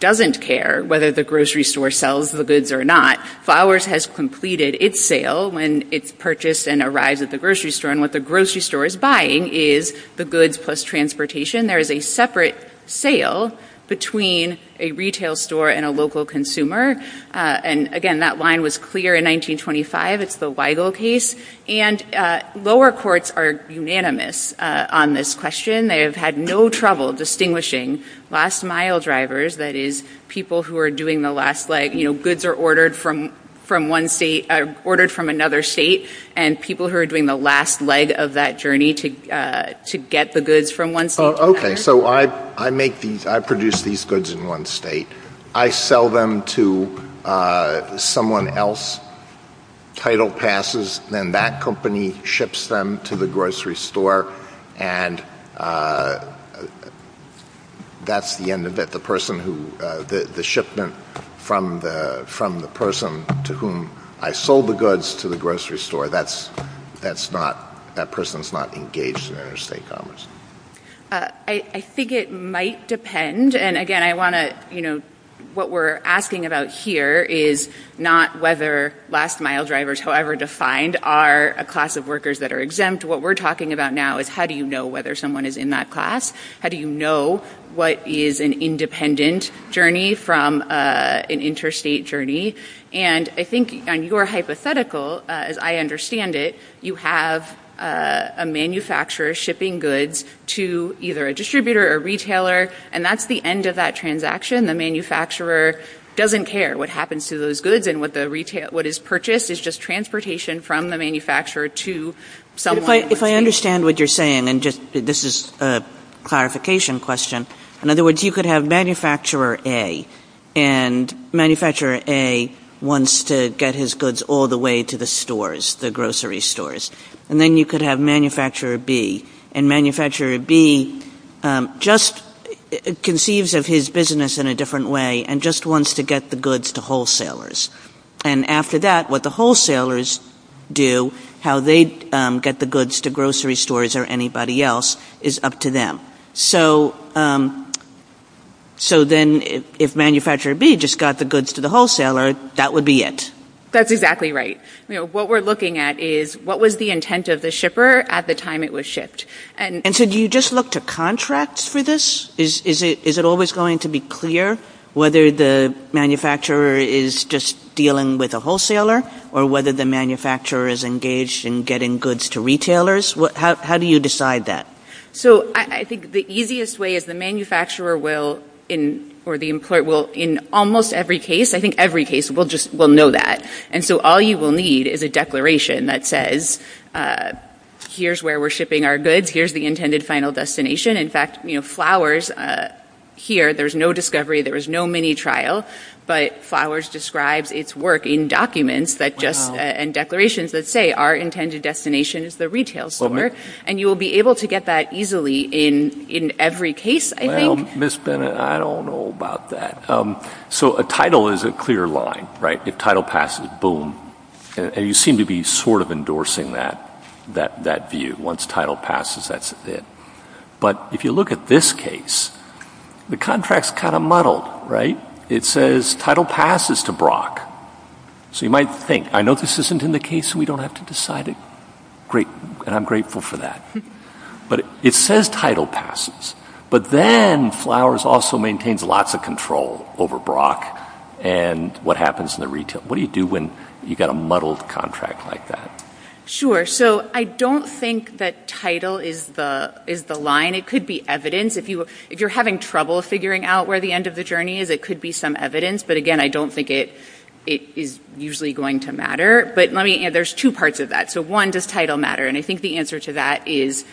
doesn't care whether the grocery store sells the goods or not. Flowers has completed its sale when it's purchased and arrives at the grocery store. And what the grocery store is buying is the goods plus transportation. There is a separate sale between a retail store and a local consumer. And again, that line was clear in 1925. It's the Weigel case. And lower courts are unanimous on this question. They have had no trouble distinguishing lost mile drivers, that is people who are doing the last leg. You know, goods are ordered from another state and people who are doing the last leg of that journey to get the goods from one state to another. Oh, okay. So I produce these goods in one state. I sell them to someone else, title passes, then that company ships them to the grocery store and that's the end of it. The shipment from the person to whom I sold the goods to the grocery store, that person is not engaged in their estate, almost. I think it might depend. And again, what we're asking about here is not whether lost mile drivers, however defined, are a class of workers that are exempt. What we're talking about now is how do you know whether someone is in that class? How do you know what is an independent journey from an interstate journey? And I think on your hypothetical, as I understand it, you have a manufacturer shipping goods to either a distributor or retailer and that's the end of that transaction. The manufacturer doesn't care what happens to those goods and what is purchased is just transportation from the manufacturer to someone else. If I understand what you're saying, and this is a clarification question, in other words, you could have manufacturer A and manufacturer A wants to get his goods all the way to the stores, the grocery stores, and then you could have manufacturer B and manufacturer B just conceives of his business in a different way and just wants to get the goods to wholesalers. And after that, what the wholesalers do, how they get the goods to grocery stores or anybody else is up to them. So then if manufacturer B just got the goods to the wholesaler, that would be it. That's exactly right. What we're looking at is what was the intent of the shipper at the time it was shipped. And so do you just look to contracts for this? Is it always going to be clear whether the manufacturer is just dealing with a wholesaler or whether the manufacturer is engaged in getting goods to retailers? How do you decide that? So I think the easiest way is the manufacturer will, or the employer will, in almost every case, I think every case, will know that. And so all you will need is a declaration that says, here's where we're shipping our goods, here's the intended final destination. In fact, Flowers here, there's no discovery, there was no mini trial, but Flowers describes its work in documents and declarations that say, our intended destination is the retail store. And you will be able to get that easily in every case, I think. Ms. Bennett, I don't know about that. So a title is a clear line, right? The title passes, boom. And you seem to be sort of endorsing that view. Once title passes, that's it. But if you look at this case, the contract's kind of muddled, right? It says title passes to Brock. So you might think, I know this isn't in the case, so we don't have to decide it. And I'm grateful for that. But it says title passes. But then Flowers also maintains lots of control over Brock and what happens in the retail. What do you do when you've got a muddled contract like that? Sure. So I don't think that title is the line. It could be evidence. If you're having trouble figuring out where the end of the journey is, it could be some evidence. But, again, I don't think it is usually going to matter. But there's two parts of that. So, one, does title matter? And I think the answer to that is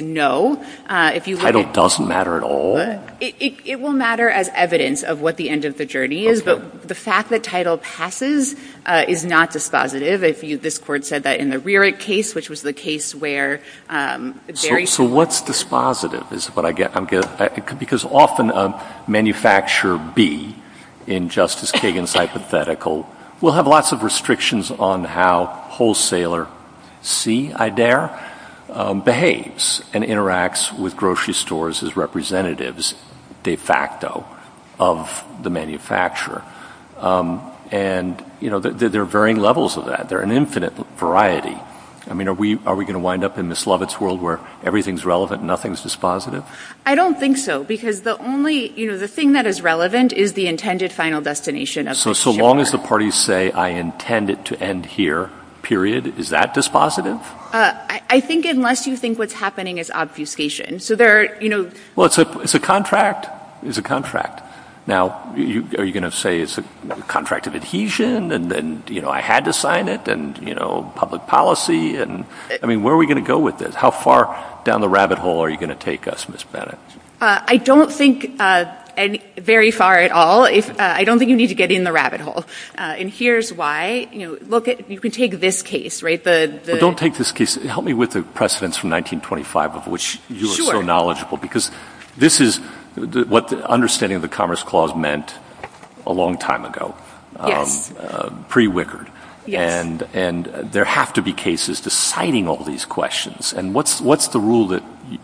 no. Title doesn't matter at all? It will matter as evidence of what the end of the journey is. But the fact that title passes is not dispositive. This court said that in the Rerich case, which was the case where Barry ---- So what's dispositive is what I'm getting at. Because often a manufacturer B, in Justice Kagan's hypothetical, will have lots of restrictions on how wholesaler C, I dare, behaves and interacts with grocery stores as representatives de facto of the manufacturer. And, you know, there are varying levels of that. There are an infinite variety. I mean, are we going to wind up in Ms. Lovett's world where everything is relevant, nothing is dispositive? I don't think so. Because the only, you know, the thing that is relevant is the intended final destination. So long as the parties say, I intend it to end here, period, is that dispositive? I think unless you think what's happening is obfuscation. So there are, you know ---- Well, it's a contract. It's a contract. Now, are you going to say it's a contract of adhesion and, you know, I had to sign it? And, you know, public policy? I mean, where are we going to go with this? How far down the rabbit hole are you going to take us, Ms. Bennett? I don't think very far at all. I don't think you need to get in the rabbit hole. And here's why. You know, look, you could take this case, right? Don't take this case. Help me with the precedence from 1925 of which you are so knowledgeable. Because this is what the understanding of the Commerce Clause meant a long time ago. Yes. Pre-Wickard. Yes. And there have to be cases deciding all these questions. And what's the rule that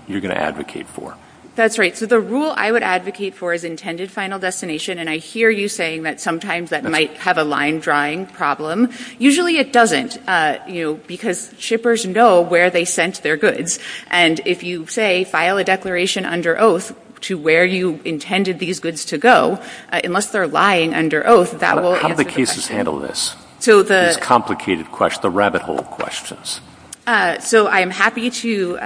you're going to advocate for? That's right. So the rule I would advocate for is intended final destination. And I hear you saying that sometimes that might have a line drawing problem. Usually it doesn't, you know, because shippers know where they sent their goods. And if you say file a declaration under oath to where you intended these goods to go, unless they're lying under oath, that will ---- How do the cases handle this? So the ---- It's a complicated question, the rabbit hole questions. So I'm happy to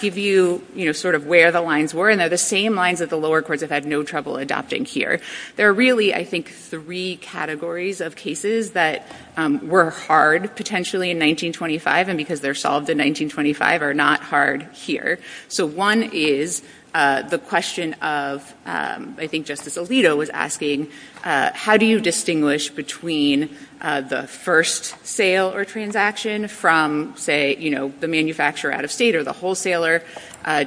give you, you know, sort of where the lines were. And they're the same lines that the lower courts have had no trouble adopting here. There are really, I think, three categories of cases that were hard potentially in 1925 and because they're solved in 1925 are not hard here. So one is the question of, I think Justice Alito was asking, how do you distinguish between the first sale or transaction from, say, you know, the manufacturer out of state or the wholesaler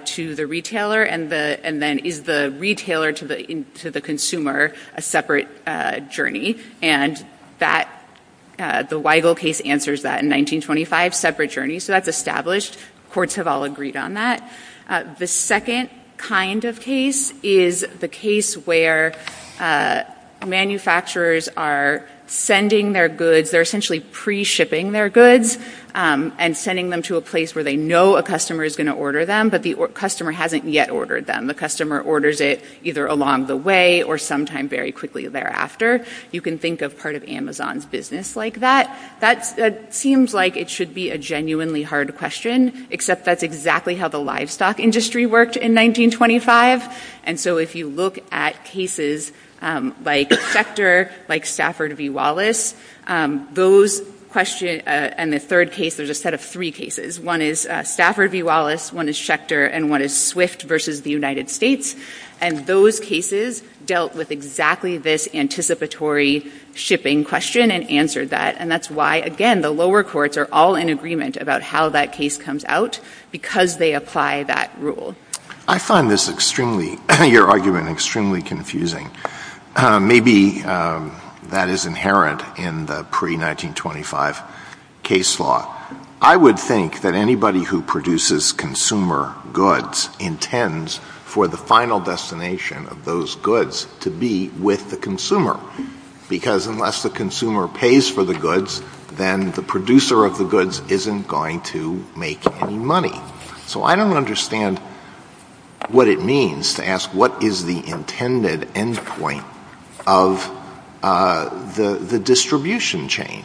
to the retailer? And then is the retailer to the consumer a separate journey? And that, the Weigel case answers that in 1925, separate journey. So that's established. Courts have all agreed on that. The second kind of case is the case where manufacturers are sending their goods. They're essentially pre-shipping their goods and sending them to a place where they know a customer is going to order them, but the customer hasn't yet ordered them. The customer orders it either along the way or sometime very quickly thereafter. You can think of part of Amazon's business like that. That seems like it should be a genuinely hard question, except that's exactly how the livestock industry worked in 1925. And so if you look at cases like Schecter, like Stafford v. Wallace, those questions, and the third case, there's a set of three cases. One is Stafford v. Wallace, one is Schecter, and one is Swift versus the United States. And those cases dealt with exactly this anticipatory shipping question and answered that. And that's why, again, the lower courts are all in agreement about how that case comes out because they apply that rule. I find your argument extremely confusing. Maybe that is inherent in the pre-1925 case law. I would think that anybody who produces consumer goods intends for the final destination of those goods to be with the consumer because unless the consumer pays for the goods, then the producer of the goods isn't going to make any money. So I don't understand what it means to ask, what is the intended endpoint of the distribution chain?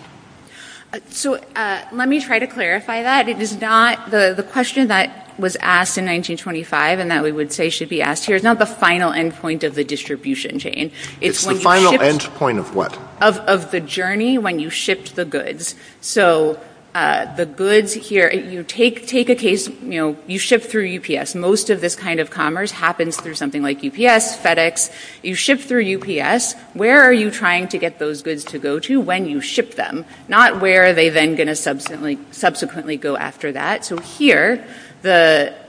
So let me try to clarify that. The question that was asked in 1925 and that we would say should be asked here is not the final endpoint of the distribution chain. It's the final endpoint of what? Of the journey when you shipped the goods. So the goods here, you take a case, you ship through UPS. Most of this kind of commerce happens through something like UPS, FedEx. You ship through UPS. Where are you trying to get those goods to go to when you ship them? Not where are they then going to subsequently go after that. So here,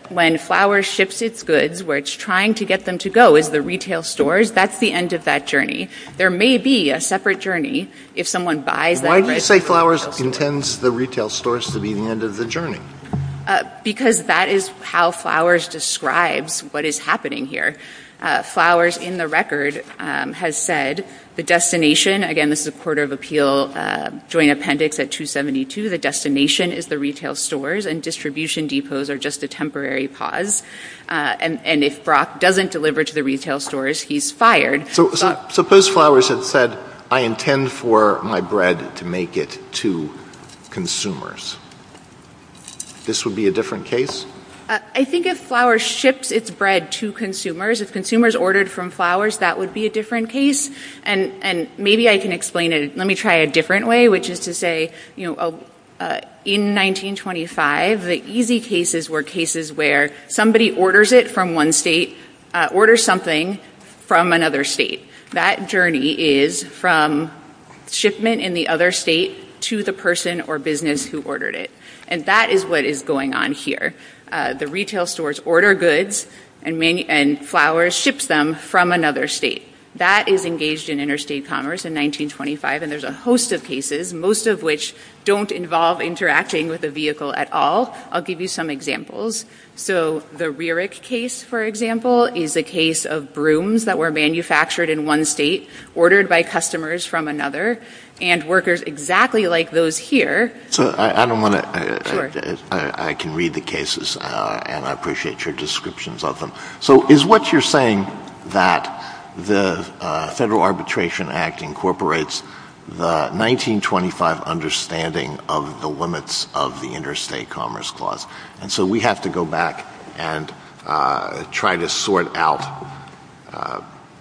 when Flowers ships its goods, where it's trying to get them to go is the retail stores. That's the end of that journey. There may be a separate journey if someone buys that right now. Why do you say Flowers intends the retail stores to be the end of the journey? Because that is how Flowers describes what is happening here. Flowers in the record has said the destination, again, this is a Court of Appeal Joint Appendix at 272, the destination is the retail stores, and distribution depots are just a temporary pause. And if Brock doesn't deliver to the retail stores, he's fired. Suppose Flowers had said, I intend for my bread to make it to consumers. This would be a different case? I think if Flowers ships its bread to consumers, if consumers ordered from Flowers, that would be a different case. And maybe I can explain it. Let me try a different way, which is to say, in 1925, the easy cases were cases where somebody orders it from one state, orders something from another state. That journey is from shipment in the other state to the person or business who ordered it. And that is what is going on here. The retail stores order goods, and Flowers ships them from another state. That is engaged in interstate commerce in 1925, and there's a host of cases, most of which don't involve interacting with a vehicle at all. I'll give you some examples. The Rierich case, for example, is a case of brooms that were manufactured in one state, ordered by customers from another, and workers exactly like those here. I can read the cases, and I appreciate your descriptions of them. So is what you're saying that the Federal Arbitration Act incorporates the 1925 understanding of the limits of the Interstate Commerce Clause, and so we have to go back and try to sort out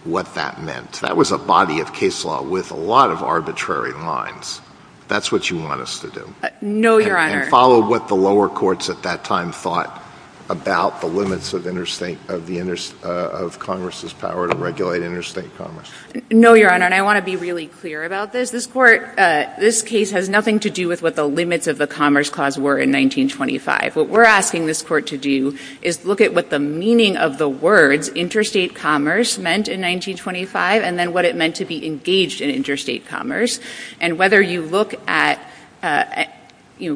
what that meant? That was a body of case law with a lot of arbitrary lines. That's what you want us to do? No, Your Honor. Follow what the lower courts at that time thought about the limits of Congress's power to regulate interstate commerce? No, Your Honor, and I want to be really clear about this. This case has nothing to do with what the limits of the Commerce Clause were in 1925. What we're asking this court to do is look at what the meaning of the words interstate commerce meant in 1925, and then what it meant to be engaged in interstate commerce, and whether you look at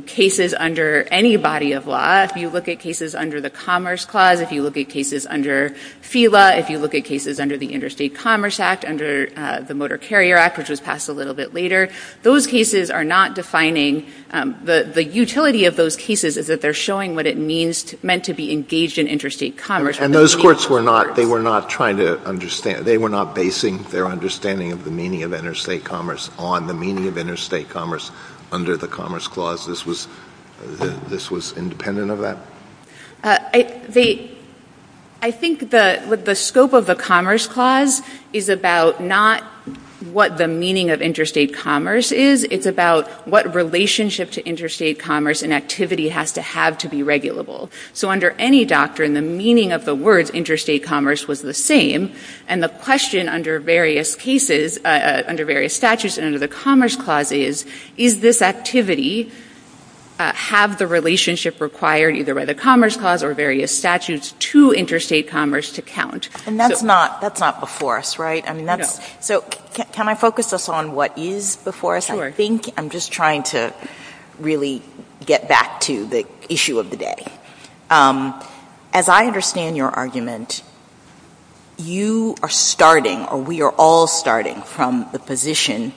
cases under any body of law. If you look at cases under the Commerce Clause, if you look at cases under FILA, if you look at cases under the Interstate Commerce Act, under the Motor Carrier Act, which was passed a little bit later, those cases are not defining. The utility of those cases is that they're showing what it meant to be engaged in interstate commerce. And those courts were not trying to understand. They were not basing their understanding of the meaning of interstate commerce on the meaning of interstate commerce under the Commerce Clause. This was independent of that? I think the scope of the Commerce Clause is about not what the meaning of interstate commerce is. It's about what relationship to interstate commerce and activity has to have to be regulable. So under any doctrine, the meaning of the words interstate commerce was the same, and the question under various cases, under various statutes and under the Commerce Clause is, is this activity, have the relationship required either by the Commerce Clause or various statutes to interstate commerce to count? And that's not before us, right? No. So can I focus us on what is before us? Sure. I think I'm just trying to really get back to the issue of the day. As I understand your argument, you are starting, or we are all starting, from the position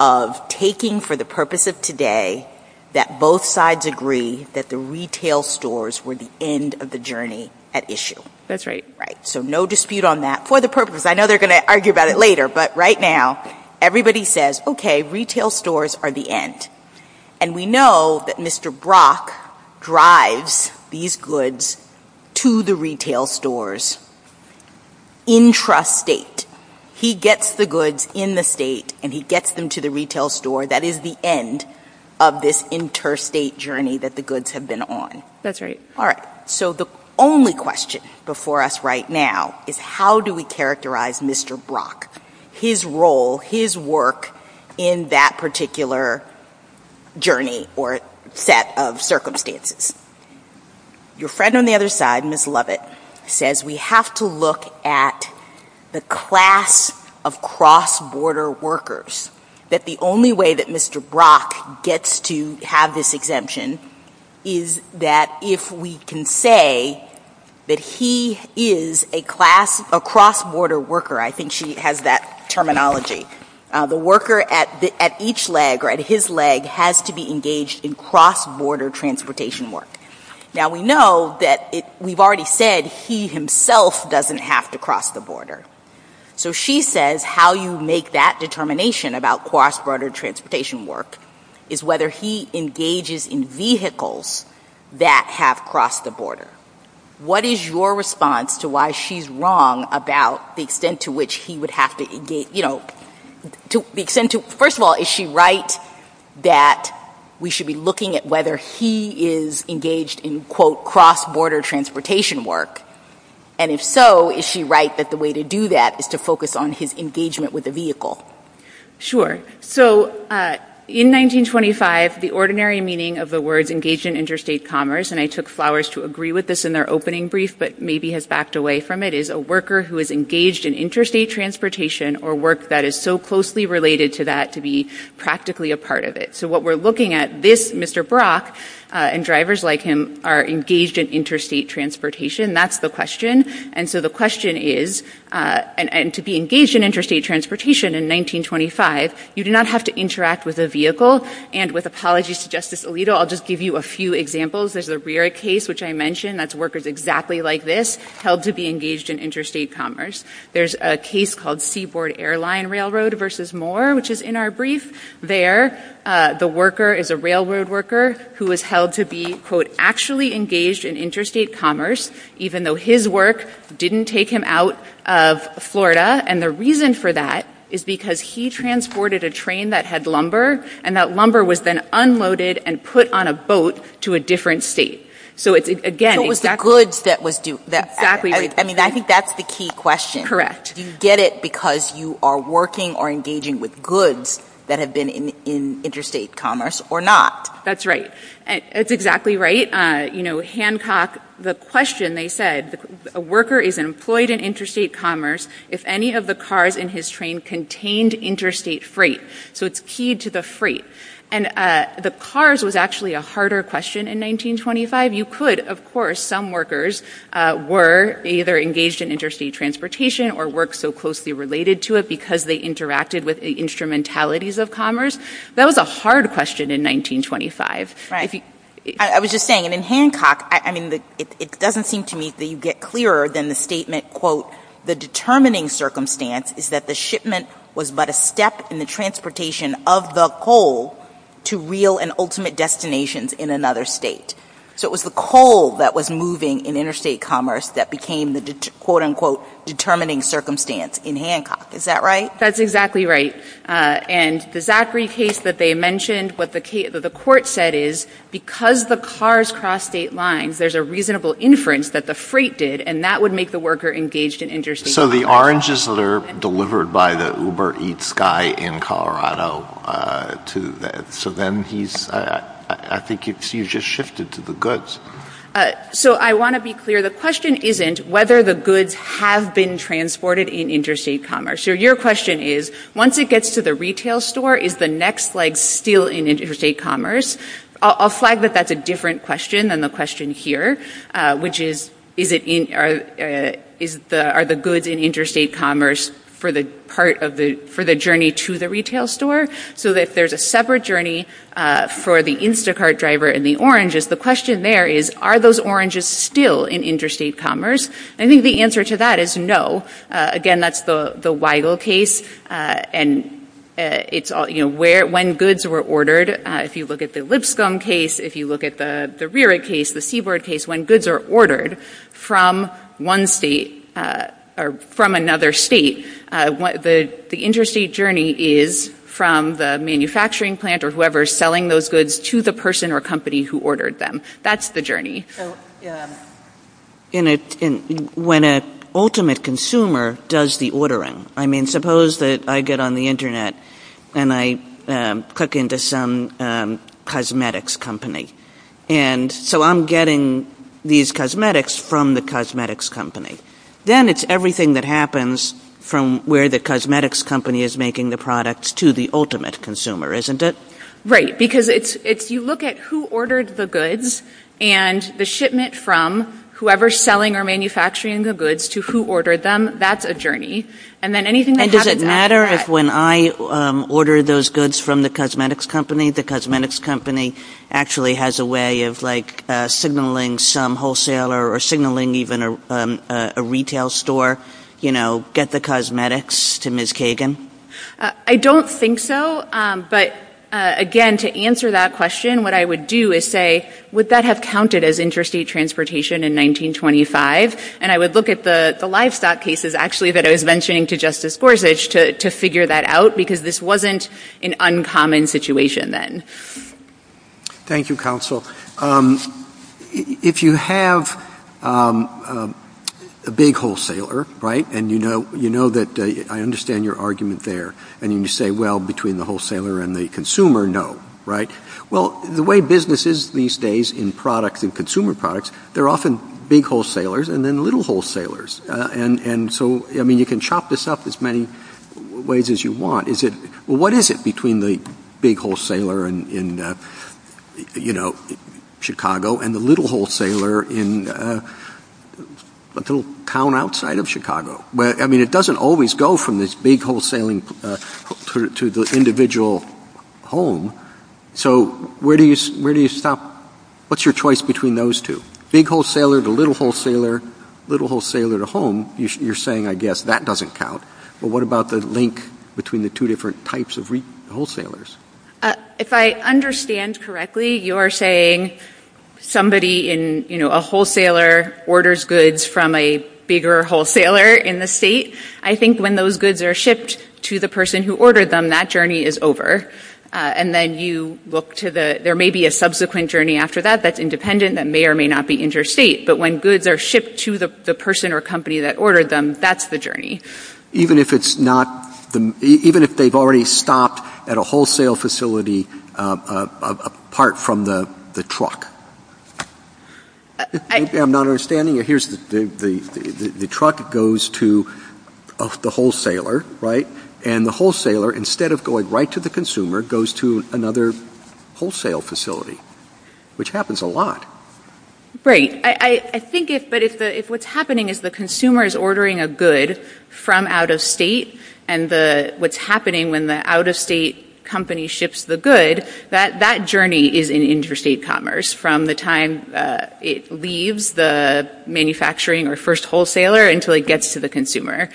of taking for the purpose of today that both sides agree that the retail stores were the end of the journey at issue. That's right. Right. So no dispute on that for the purpose. I know they're going to argue about it later, but right now everybody says, okay, retail stores are the end. And we know that Mr. Brock drives these goods to the retail stores intrastate. He gets the goods in the state and he gets them to the retail store. That is the end of this interstate journey that the goods have been on. That's right. All right. So the only question before us right now is how do we characterize Mr. Brock, his role, his work in that particular journey or set of circumstances? Your friend on the other side, Ms. Lovett, says we have to look at the class of cross-border workers, that the only way that Mr. Brock gets to have this exemption is that if we can say that he is a cross-border worker, I think she has that terminology. The worker at each leg or at his leg has to be engaged in cross-border transportation work. Now, we know that we've already said he himself doesn't have to cross the border. So she says how you make that determination about cross-border transportation work is whether he engages in vehicles that have crossed the border. What is your response to why she's wrong about the extent to which he would have to engage? First of all, is she right that we should be looking at whether he is engaged in, quote, cross-border transportation work? And if so, is she right that the way to do that is to focus on his engagement with the vehicle? Sure. So in 1925, the ordinary meaning of the words engaged in interstate commerce, and I took flowers to agree with this in their opening brief but maybe has backed away from it, is a worker who is engaged in interstate transportation or work that is so closely related to that to be practically a part of it. So what we're looking at, this Mr. Brock and drivers like him are engaged in interstate transportation. That's the question. And so the question is, and to be engaged in interstate transportation in 1925, you do not have to interact with a vehicle. And with apologies to Justice Alito, I'll just give you a few examples. There's a rare case, which I mentioned, that's workers exactly like this held to be engaged in interstate commerce. There's a case called Seaboard Airline Railroad versus Moore, which is in our brief. There the worker is a railroad worker who is held to be, quote, actually engaged in interstate commerce even though his work didn't take him out of Florida. And the reason for that is because he transported a train that had lumber, and that lumber was then unloaded and put on a boat to a different state. So again, exactly. So it was the goods that was due. Exactly. I mean, I think that's the key question. Do you get it because you are working or engaging with goods that have been in interstate commerce or not? That's right. That's exactly right. You know, Hancock, the question they said, a worker is employed in interstate commerce if any of the cars in his train contained interstate freight. So it's keyed to the freight. And the cars was actually a harder question in 1925. You could, of course, some workers were either engaged in interstate transportation or worked so closely related to it because they interacted with the instrumentalities of commerce. That was a hard question in 1925. I was just saying, and in Hancock, I mean, it doesn't seem to me that you get clearer than the statement, quote, the determining circumstance is that the shipment was but a step in the transportation of the coal to real and ultimate destinations in another state. So it was the coal that was moving in interstate commerce that became the, quote, unquote, determining circumstance in Hancock. Is that right? That's exactly right. And the Zachary case that they mentioned, what the court said is because the cars crossed state lines, there's a reasonable inference that the freight did, and that would make the worker engaged in interstate commerce. So the oranges were delivered by the Uber Eats guy in Colorado. So then he's, I think he's just shifted to the goods. So I want to be clear. The question isn't whether the goods have been transported in interstate commerce. So your question is, once it gets to the retail store, is the next leg still in interstate commerce? I'll flag that that's a different question than the question here, which is, are the goods in interstate commerce for the journey to the retail store? So that there's a separate journey for the Instacart driver and the oranges. The question there is, are those oranges still in interstate commerce? I think the answer to that is no. Again, that's the Weigel case. And it's, you know, when goods were ordered, if you look at the Lipscomb case, if you look at the Rerich case, the Seaboard case, when goods are ordered from one state, or from another state, the interstate journey is from the manufacturing plant or whoever is selling those goods to the person or company who ordered them. That's the journey. When an ultimate consumer does the ordering. I mean, suppose that I get on the Internet and I click into some cosmetics company. And so I'm getting these cosmetics from the cosmetics company. Then it's everything that happens from where the cosmetics company is making the product to the ultimate consumer, isn't it? Right, because if you look at who ordered the goods and the shipment from whoever's selling or manufacturing the goods to who ordered them, that's a journey. And does it matter if when I order those goods from the cosmetics company, the cosmetics company actually has a way of, like, signaling some wholesaler or signaling even a retail store, you know, get the cosmetics to Ms. Kagan? I don't think so. But, again, to answer that question, what I would do is say, would that have counted as interstate transportation in 1925? And I would look at the livestock cases, actually, that I was mentioning to Justice Gorsuch to figure that out because this wasn't an uncommon situation then. Thank you, Counsel. If you have a big wholesaler, right, and you know that I understand your argument there, and you say, well, between the wholesaler and the consumer, no, right? Well, the way business is these days in product and consumer products, they're often big wholesalers and then little wholesalers. And so, I mean, you can chop this up as many ways as you want. What is it between the big wholesaler in, you know, Chicago and the little wholesaler in a little town outside of Chicago? I mean, it doesn't always go from this big wholesaling to the individual home. So where do you stop? What's your choice between those two? Big wholesaler to little wholesaler, little wholesaler to home, you're saying, I guess, that doesn't count. But what about the link between the two different types of wholesalers? If I understand correctly, you're saying somebody in, you know, a wholesaler orders goods from a bigger wholesaler in the state. I think when those goods are shipped to the person who ordered them, that journey is over. And then you look to the – there may be a subsequent journey after that that's independent, that may or may not be interstate. But when goods are shipped to the person or company that ordered them, that's the journey. Even if it's not – even if they've already stopped at a wholesale facility apart from the truck? I'm not understanding you. Here's the – the truck goes to the wholesaler, right? And the wholesaler, instead of going right to the consumer, goes to another wholesale facility, which happens a lot. I think if – but if what's happening is the consumer is ordering a good from out of state and the – what's happening when the out-of-state company ships the good, that journey is in interstate commerce from the time it leaves the manufacturing or first wholesaler until it gets to the consumer.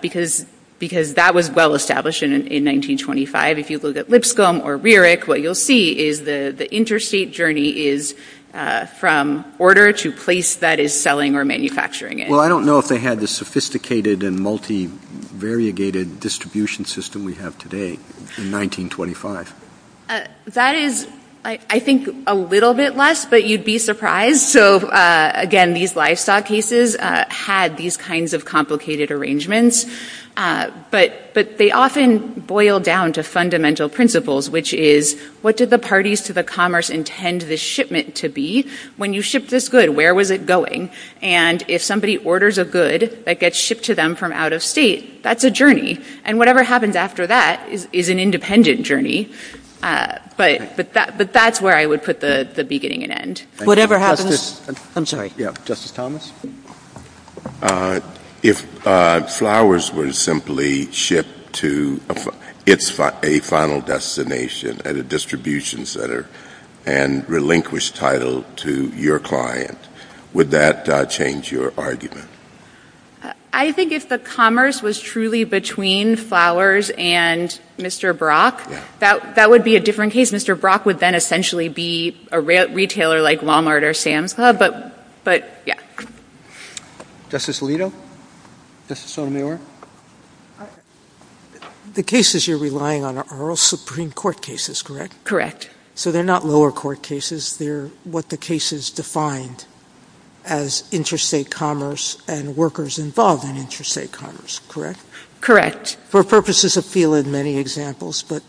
Because that was well-established in 1925. If you look at Lipscomb or Rierich, what you'll see is the interstate journey is from order to place that is selling or manufacturing it. Well, I don't know if they had the sophisticated and multivariated distribution system we have today in 1925. That is, I think, a little bit less, but you'd be surprised. So, again, these lifestyle cases had these kinds of complicated arrangements. But they often boil down to fundamental principles, which is, what did the parties to the commerce intend this shipment to be? When you ship this good, where was it going? And if somebody orders a good that gets shipped to them from out of state, that's a journey. And whatever happened after that is an independent journey. But that's where I would put the beginning and end. Whatever happens... I'm sorry. Justice Thomas? If Flowers was simply shipped to a final destination at a distribution center and relinquished title to your client, would that change your argument? I think if the commerce was truly between Flowers and Mr. Brock, that would be a different case. Mr. Brock would then essentially be a retailer like Walmart or Sam's Club, but... Justice Alito? Justice O'Neill? The cases you're relying on are all Supreme Court cases, correct? Correct. So they're not lower court cases. They're what the cases defined as interstate commerce and workers involved in interstate commerce, correct? Correct. For purposes of feel in many examples, but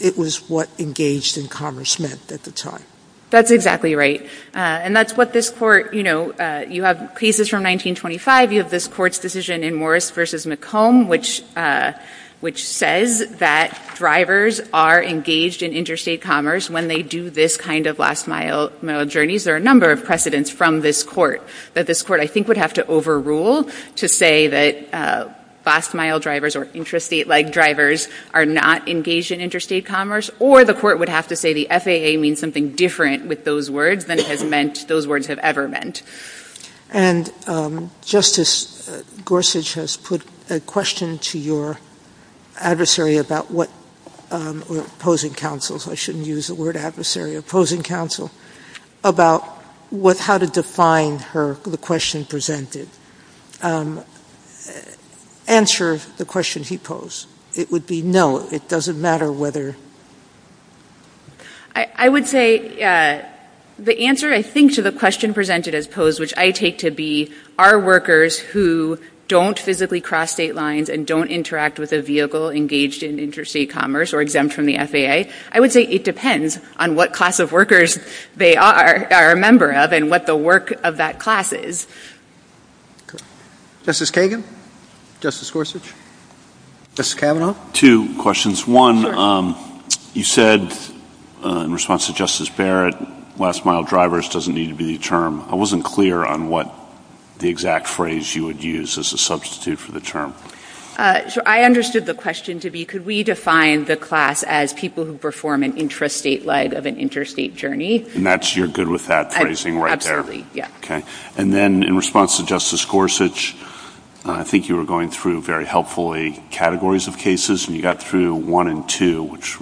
it was what engaged in commerce meant at the time. That's exactly right. And that's what this court... You have cases from 1925. You have this court's decision in Morris v. McComb, which says that drivers are engaged in interstate commerce when they do this kind of last mile journeys. There are a number of precedents from this court that this court, I think, would have to overrule to say that last mile drivers or interstate-leg drivers are not engaged in interstate commerce, or the court would have to say the FAA means something different with those words than it has meant those words have ever meant. And Justice Gorsuch has put a question to your adversary about what... Opposing counsel. I shouldn't use the word adversary. Opposing counsel. About how to define the question presented. Answer the question he posed. It would be no. It doesn't matter whether... I would say the answer, I think, to the question presented is posed, which I take to be, are workers who don't physically cross state lines and don't interact with a vehicle engaged in interstate commerce or exempt from the FAA? I would say it depends on what class of workers they are a member of and what the work of that class is. Justice Kagan? Justice Gorsuch? Justice Kavanaugh? Two questions. One, you said, in response to Justice Barrett, last mile drivers doesn't need to be the term. I wasn't clear on what the exact phrase you would use as a substitute for the term. I understood the question to be, could we define the class as people who perform an intrastate leg of an interstate journey? And you're good with that phrasing right there? Absolutely, yeah. Okay. And then, in response to Justice Gorsuch, I think you were going through, very helpfully, categories of cases, and you got through one and two, which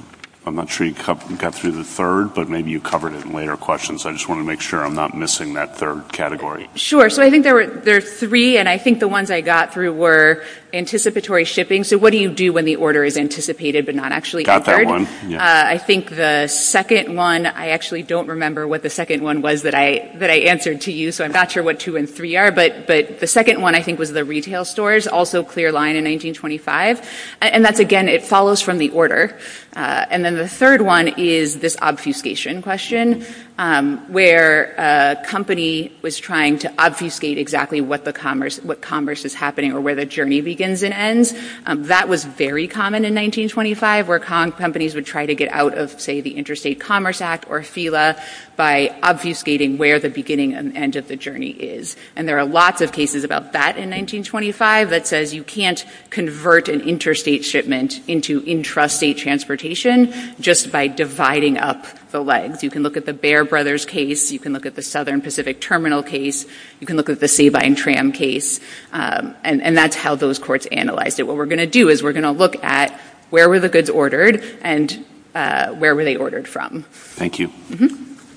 I'm not sure you got through the third, but maybe you covered it in later questions. I just want to make sure I'm not missing that third category. Sure. So I think there are three, and I think the ones I got through were anticipatory shipping. So what do you do when the order is anticipated but not actually offered? Got that one. I think the second one, I actually don't remember what the second one was that I answered to you, so I'm not sure what two and three are, but the second one, I think, was the retail stores, also clear line in 1925. And that's, again, it follows from the order. And then the third one is this obfuscation question, where a company was trying to obfuscate exactly what commerce is happening or where the journey begins and ends. That was very common in 1925, where companies would try to get out of, say, the Interstate Commerce Act or FILA by obfuscating where the beginning and end of the journey is. And there are lots of cases about that in 1925 that says you can't convert an interstate shipment into intrastate transportation just by dividing up the legs. You can look at the Bear Brothers case. You can look at the Southern Pacific Terminal case. You can look at the Sabine Tram case. And that's how those courts analyzed it. But what we're going to do is we're going to look at where were the goods ordered and where were they ordered from. Thank you.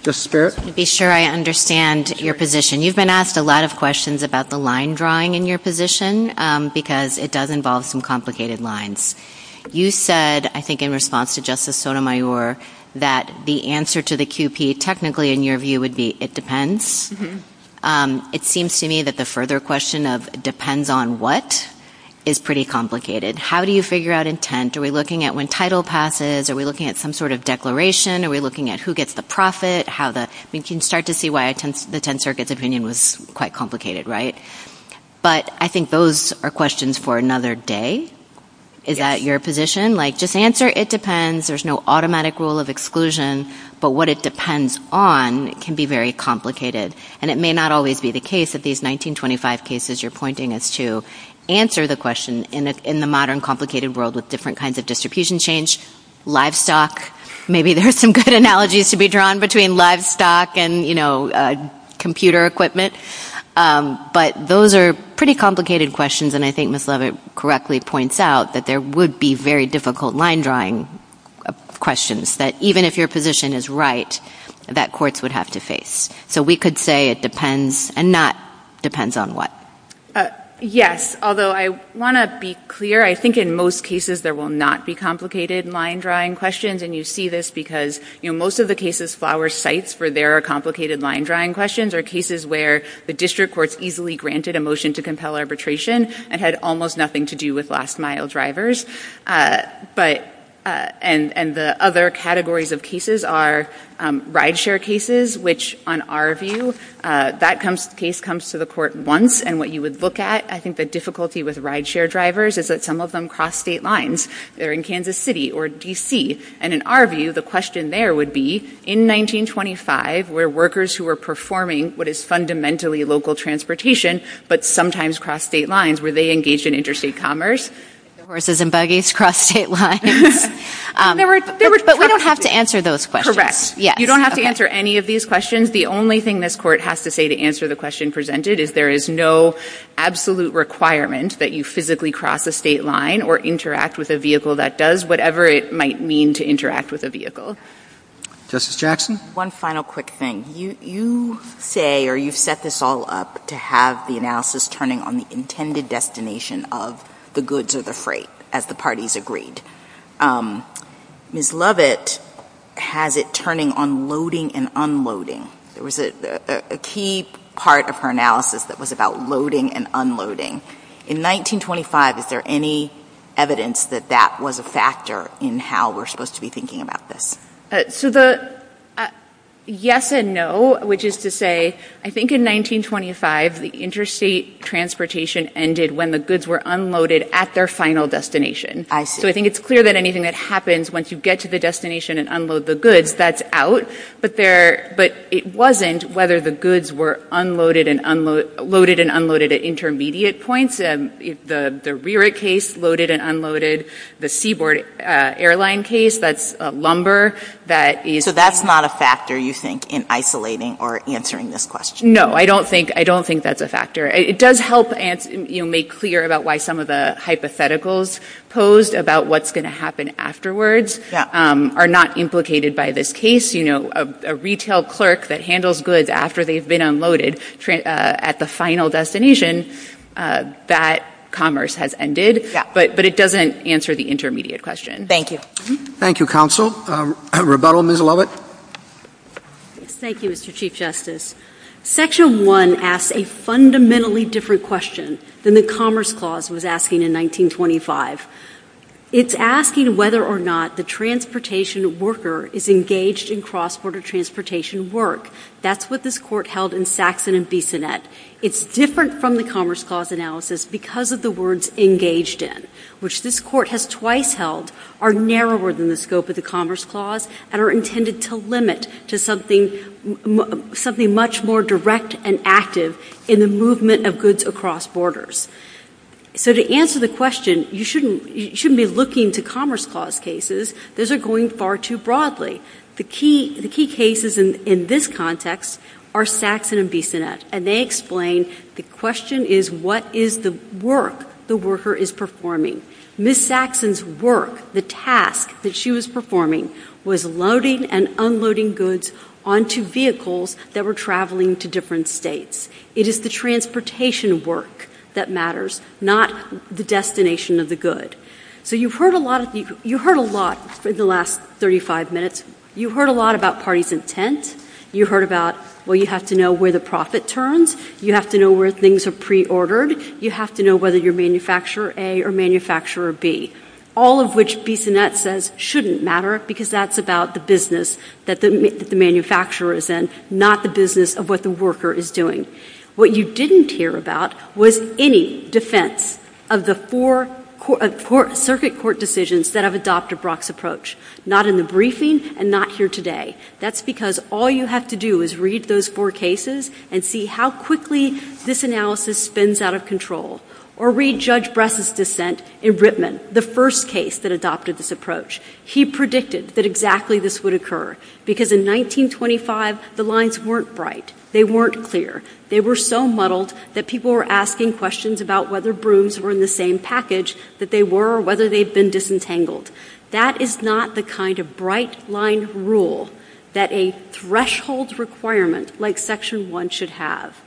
Justice Barrett. To be sure I understand your position, you've been asked a lot of questions about the line drawing in your position because it does involve some complicated lines. You said, I think in response to Justice Sotomayor, that the answer to the QP technically, in your view, would be it depends. It seems to me that the further question of depends on what is pretty complicated. How do you figure out intent? Are we looking at when title passes? Are we looking at some sort of declaration? Are we looking at who gets the profit? We can start to see why the 10th Circuit's opinion was quite complicated, right? But I think those are questions for another day. Is that your position? Like just answer it depends. There's no automatic rule of exclusion. But what it depends on can be very complicated. And it may not always be the case that these 1925 cases you're pointing to answer the question in the modern complicated world with different kinds of distribution change. Livestock, maybe there's some good analogies to be drawn between livestock and, you know, computer equipment. But those are pretty complicated questions and I think Ms. Leavitt correctly points out that there would be very difficult line drawing questions. That even if your position is right, that courts would have to face. So we could say it depends and not depends on what. Yes, although I want to be clear. I think in most cases there will not be complicated line drawing questions and you see this because, you know, most of the cases Flower cites for their complicated line drawing questions are cases where the district courts easily granted a motion to compel arbitration and had almost nothing to do with last mile drivers. And the other categories of cases are ride share cases, which on our view, that case comes to the court once and what you would look at, I think the difficulty with ride share drivers is that some of them cross state lines. They're in Kansas City or D.C. And in our view, the question there would be in 1925 where workers who were performing what is fundamentally local transportation but sometimes cross state lines, were they engaged in interstate commerce? Horses and buggies cross state lines. But we don't have to answer those questions. Correct. You don't have to answer any of these questions. The only thing this court has to say to answer the question presented is there is no absolute requirement that you physically cross a state line or interact with a vehicle that does whatever it might mean to interact with a vehicle. Justice Jackson? One final quick thing. You say or you set this all up to have the analysis turning on the intended destination of the goods or the freight as the parties agreed. Ms. Lovett has it turning on loading and unloading. There was a key part of her analysis that was about loading and unloading. In 1925, is there any evidence that that was a factor in how we're supposed to be thinking about this? So the yes and no, which is to say I think in 1925, the interstate transportation ended when the goods were unloaded at their final destination. I see. So I think it's clear that anything that happens once you get to the destination and unload the goods, that's out. But it wasn't whether the goods were loaded and unloaded at intermediate points. The RERA case loaded and unloaded. The Seaboard Airline case, that's lumber. So that's not a factor, you think, in isolating or answering this question? No, I don't think that's a factor. It does help make clear about why some of the hypotheticals posed about what's going to happen afterwards are not implicated by this case. A retail clerk that handles goods after they've been unloaded at the final destination, that commerce has ended, but it doesn't answer the intermediate question. Thank you. Thank you, Counsel. Rebuttal, Ms. Lovett? Thank you, Mr. Chief Justice. Section 1 asks a fundamentally different question than the Commerce Clause was asking in 1925. It's asking whether or not the transportation worker is engaged in cross-border transportation work. That's what this Court held in Saxon and Bissonnette. It's different from the Commerce Clause analysis because of the words engaged in, which this Court has twice held are narrower than the scope of the Commerce Clause and are intended to limit to something much more direct and active in the movement of goods across borders. So to answer the question, you shouldn't be looking to Commerce Clause cases. Those are going far too broadly. The key cases in this context are Saxon and Bissonnette, and they explain the question is, what is the work the worker is performing? Ms. Saxon's work, the task that she was performing, was loading and unloading goods onto vehicles that were traveling to different states. It is the transportation work that matters, not the destination of the good. So you've heard a lot in the last 35 minutes. You've heard a lot about parties and tents. You've heard about, well, you have to know where the profit turns. You have to know where things are preordered. You have to know whether you're manufacturer A or manufacturer B, all of which Bissonnette says shouldn't matter because that's about the business that the manufacturer is in, not the business of what the worker is doing. What you didn't hear about was any defense of the four circuit court decisions that have adopted Brock's approach, not in the briefing and not here today. That's because all you have to do is read those four cases and see how quickly this analysis spins out of control, or read Judge Bress's dissent in Ripman, the first case that adopted this approach. He predicted that exactly this would occur because in 1925, the lines weren't bright. They weren't clear. They were so muddled that people were asking questions about whether brooms were in the same package that they were or whether they'd been disentangled. That is not the kind of bright line rule that a threshold requirement like Section 1 should have.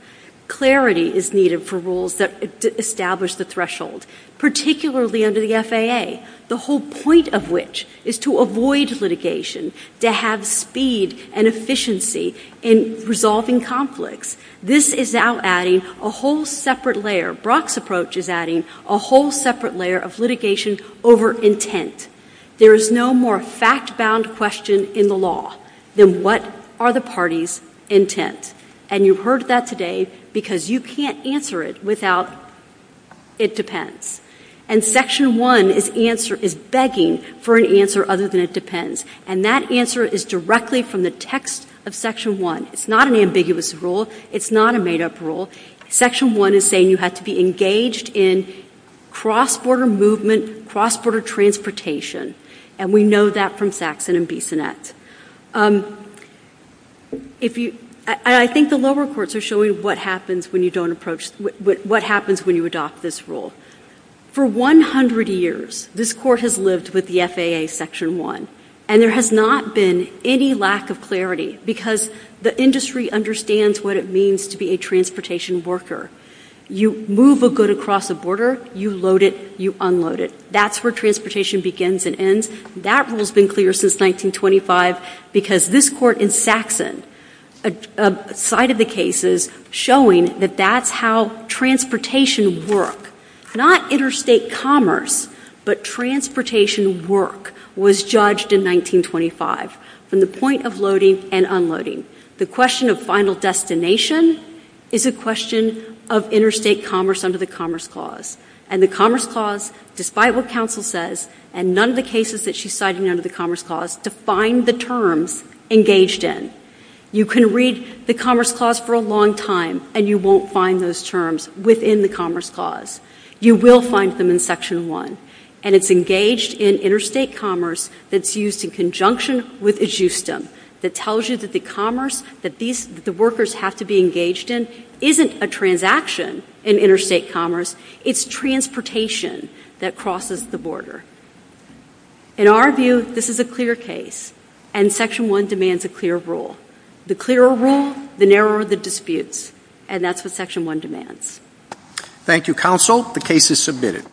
Clarity is needed for rules that establish the threshold, particularly under the FAA, the whole point of which is to avoid litigation, to have speed and efficiency in resolving conflicts. This is now adding a whole separate layer. Brock's approach is adding a whole separate layer of litigation over intent. There is no more fact-bound question in the law than what are the parties' intent. And you've heard that today because you can't answer it without it depends. And Section 1 is begging for an answer other than it depends. And that answer is directly from the text of Section 1. It's not an ambiguous rule. It's not a made-up rule. Section 1 is saying you have to be engaged in cross-border movement, cross-border transportation, and we know that from Saxon and Bissonnette. I think the lower courts are showing what happens when you adopt this rule. For 100 years, this court has lived with the FAA Section 1, and there has not been any lack of clarity because the industry understands what it means to be a transportation worker. You move a good across the border, you load it, you unload it. That's where transportation begins and ends. That rule has been clear since 1925 because this court in Saxon cited the cases showing that that's how transportation worked, not interstate commerce, but transportation work was judged in 1925 from the point of loading and unloading. The question of final destination is a question of interstate commerce under the Commerce Clause, and the Commerce Clause, despite what counsel says and none of the cases that she's citing under the Commerce Clause, defined the terms engaged in. You can read the Commerce Clause for a long time, and you won't find those terms within the Commerce Clause. You will find them in Section 1, and it's engaged in interstate commerce that's used in conjunction with ajustum, that tells you that the commerce that the workers have to be engaged in isn't a transaction in interstate commerce. It's transportation that crosses the border. In our view, this is a clear case, and Section 1 demands a clear rule. The clearer a rule, the narrower the disputes, and that's what Section 1 demands. Thank you, counsel. The case is submitted.